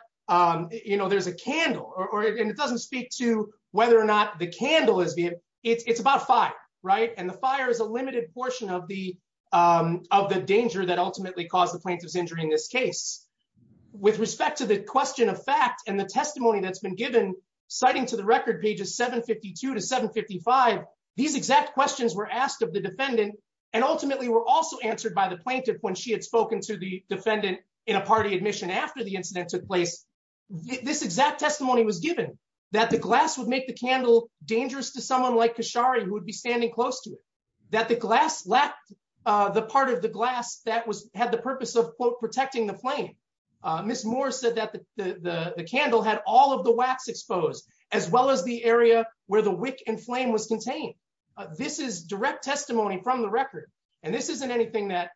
you know there's a candle or it doesn't speak to whether or not the candle is the, it's about five right and the fire is a limited portion of the, of the danger that ultimately caused the plaintiff's injury in this case, with respect to the question of fact and the testimony that's been given citing to the record pages 752 to 755. These exact questions were asked of the defendant, and ultimately were also answered by the plaintiff when she had spoken to the defendant in a party admission after the incident took place. This exact testimony was given that the glass would make the candle dangerous to someone like Kashari who would be standing close to that the glass left the part of the glass that was had the purpose of protecting the flame. Miss Moore said that the candle had all of the wax exposed, as well as the area where the wick and flame was contained. This is direct testimony from the record. And this isn't anything that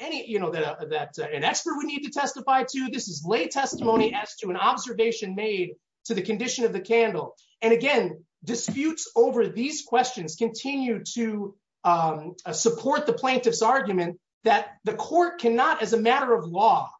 any you know that that an expert we need to testify to this is lay testimony as to an observation made to the condition of the candle. And again, disputes over these questions continue to support the plaintiff's argument that the court cannot as a matter of law,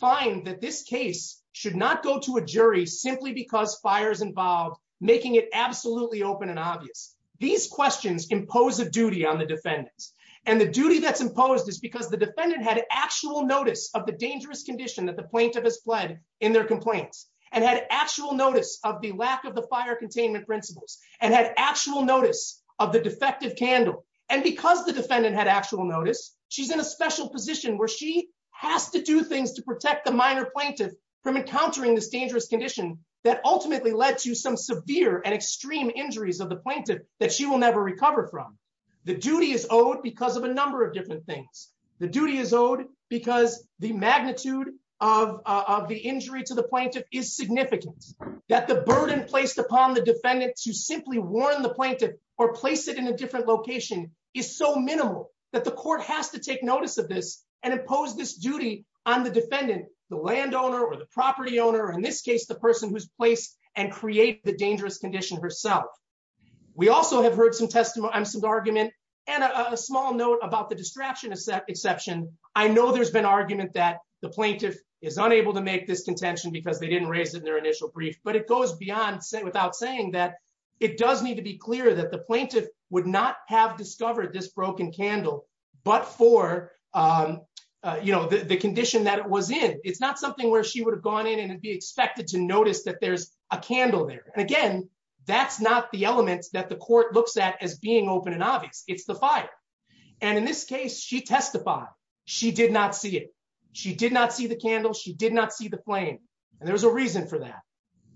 find that this case should not go to a jury simply because fires involved, making it absolutely open and obvious. These questions impose a duty on the defendants, and the duty that's imposed is because the defendant had actual notice of the dangerous condition that the plaintiff has fled in their complaints and had actual notice of the lack of the fire containment principles and had actual notice of the defective candle, and because the defendant had actual notice, she's in a special position where she has to do things to protect the minor plaintiff from encountering this dangerous condition that ultimately led to some severe and extreme injuries of the plaintiff that she will never recover from the duty is owed because of a number of different things. The duty is owed because the magnitude of the injury to the plaintiff is significant, that the burden placed upon the defendant to simply warn the plaintiff or place it in a different location is so minimal that the court has to take notice of this and impose this duty on the defendant, the landowner or the property owner in this case the person who's placed and create the dangerous condition herself. We also have heard some testimony I'm some argument, and a small note about the distraction is that exception. I know there's been argument that the plaintiff is unable to make this contention because they didn't raise it in their initial brief but it goes in, it's not something where she would have gone in and be expected to notice that there's a candle there. And again, that's not the elements that the court looks at as being open and obvious, it's the fire. And in this case she testified, she did not see it. She did not see the candle she did not see the flame. And there's a reason for that.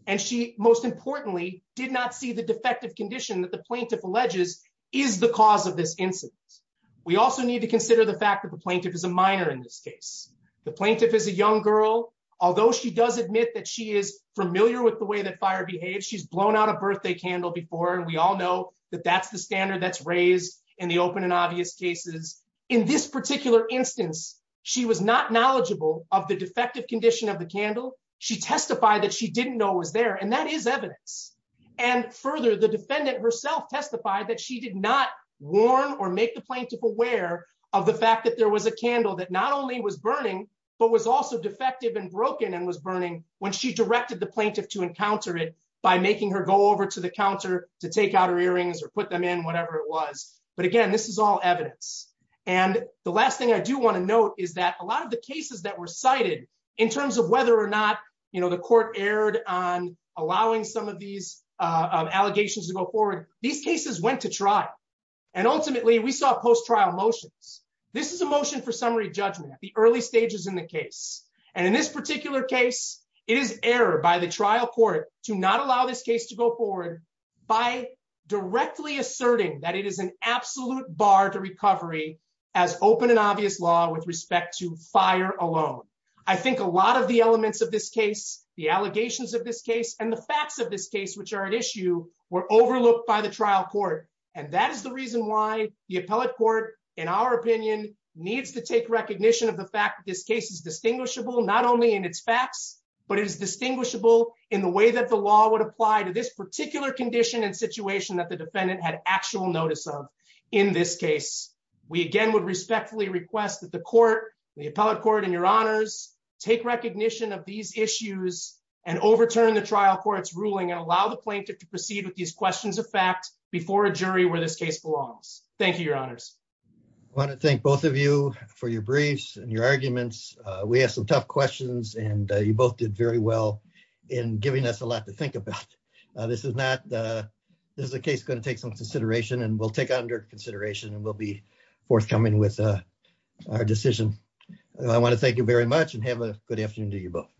And she, most importantly, did not see the defective condition that the plaintiff alleges is the cause of this incident. We also need to consider the fact that the plaintiff is a minor in this case, the plaintiff is a young girl, although she does admit that she is familiar with the way that fire behaves she's blown out a birthday candle before and we all know that that's the standard that's raised in the open and obvious cases. In this particular instance, she was not knowledgeable of the defective condition of the candle. She testified that she didn't know was there and that is evidence. And further the defendant herself testified that she did not warn or make the plaintiff aware of the fact that there was a candle that not only was burning, but was also defective and broken and was burning when she directed the plaintiff to encounter it by making her go over to the counter to take out her earrings or put them in whatever it was. But again, this is all evidence. And the last thing I do want to note is that a lot of the cases that were cited in terms of whether or not you know the court aired on allowing some of these allegations to go forward. These cases went to trial. And ultimately we saw post trial motions. This is a motion for summary judgment at the early stages in the case. And in this particular case, it is error by the trial court to not allow this case to go forward by directly asserting that it is an error by the trial court. And that is the reason why the appellate court, in our opinion, needs to take recognition of the fact that this case is distinguishable not only in its facts, but it is distinguishable in the way that the law would apply to this particular condition and situation that the defendant had actual notice of. In this case, we again would respectfully request that the court, the appellate court and your honors, take recognition of these issues and overturn the trial courts ruling and allow the plaintiff to proceed with these questions of fact, before a jury where this case belongs. Thank you, your honors. I want to thank both of you for your briefs and your arguments. We have some tough questions and you both did very well in giving us a lot to think about. This is a case going to take some consideration and we'll take under consideration and we'll be forthcoming with our decision. I want to thank you very much and have a good afternoon to you both.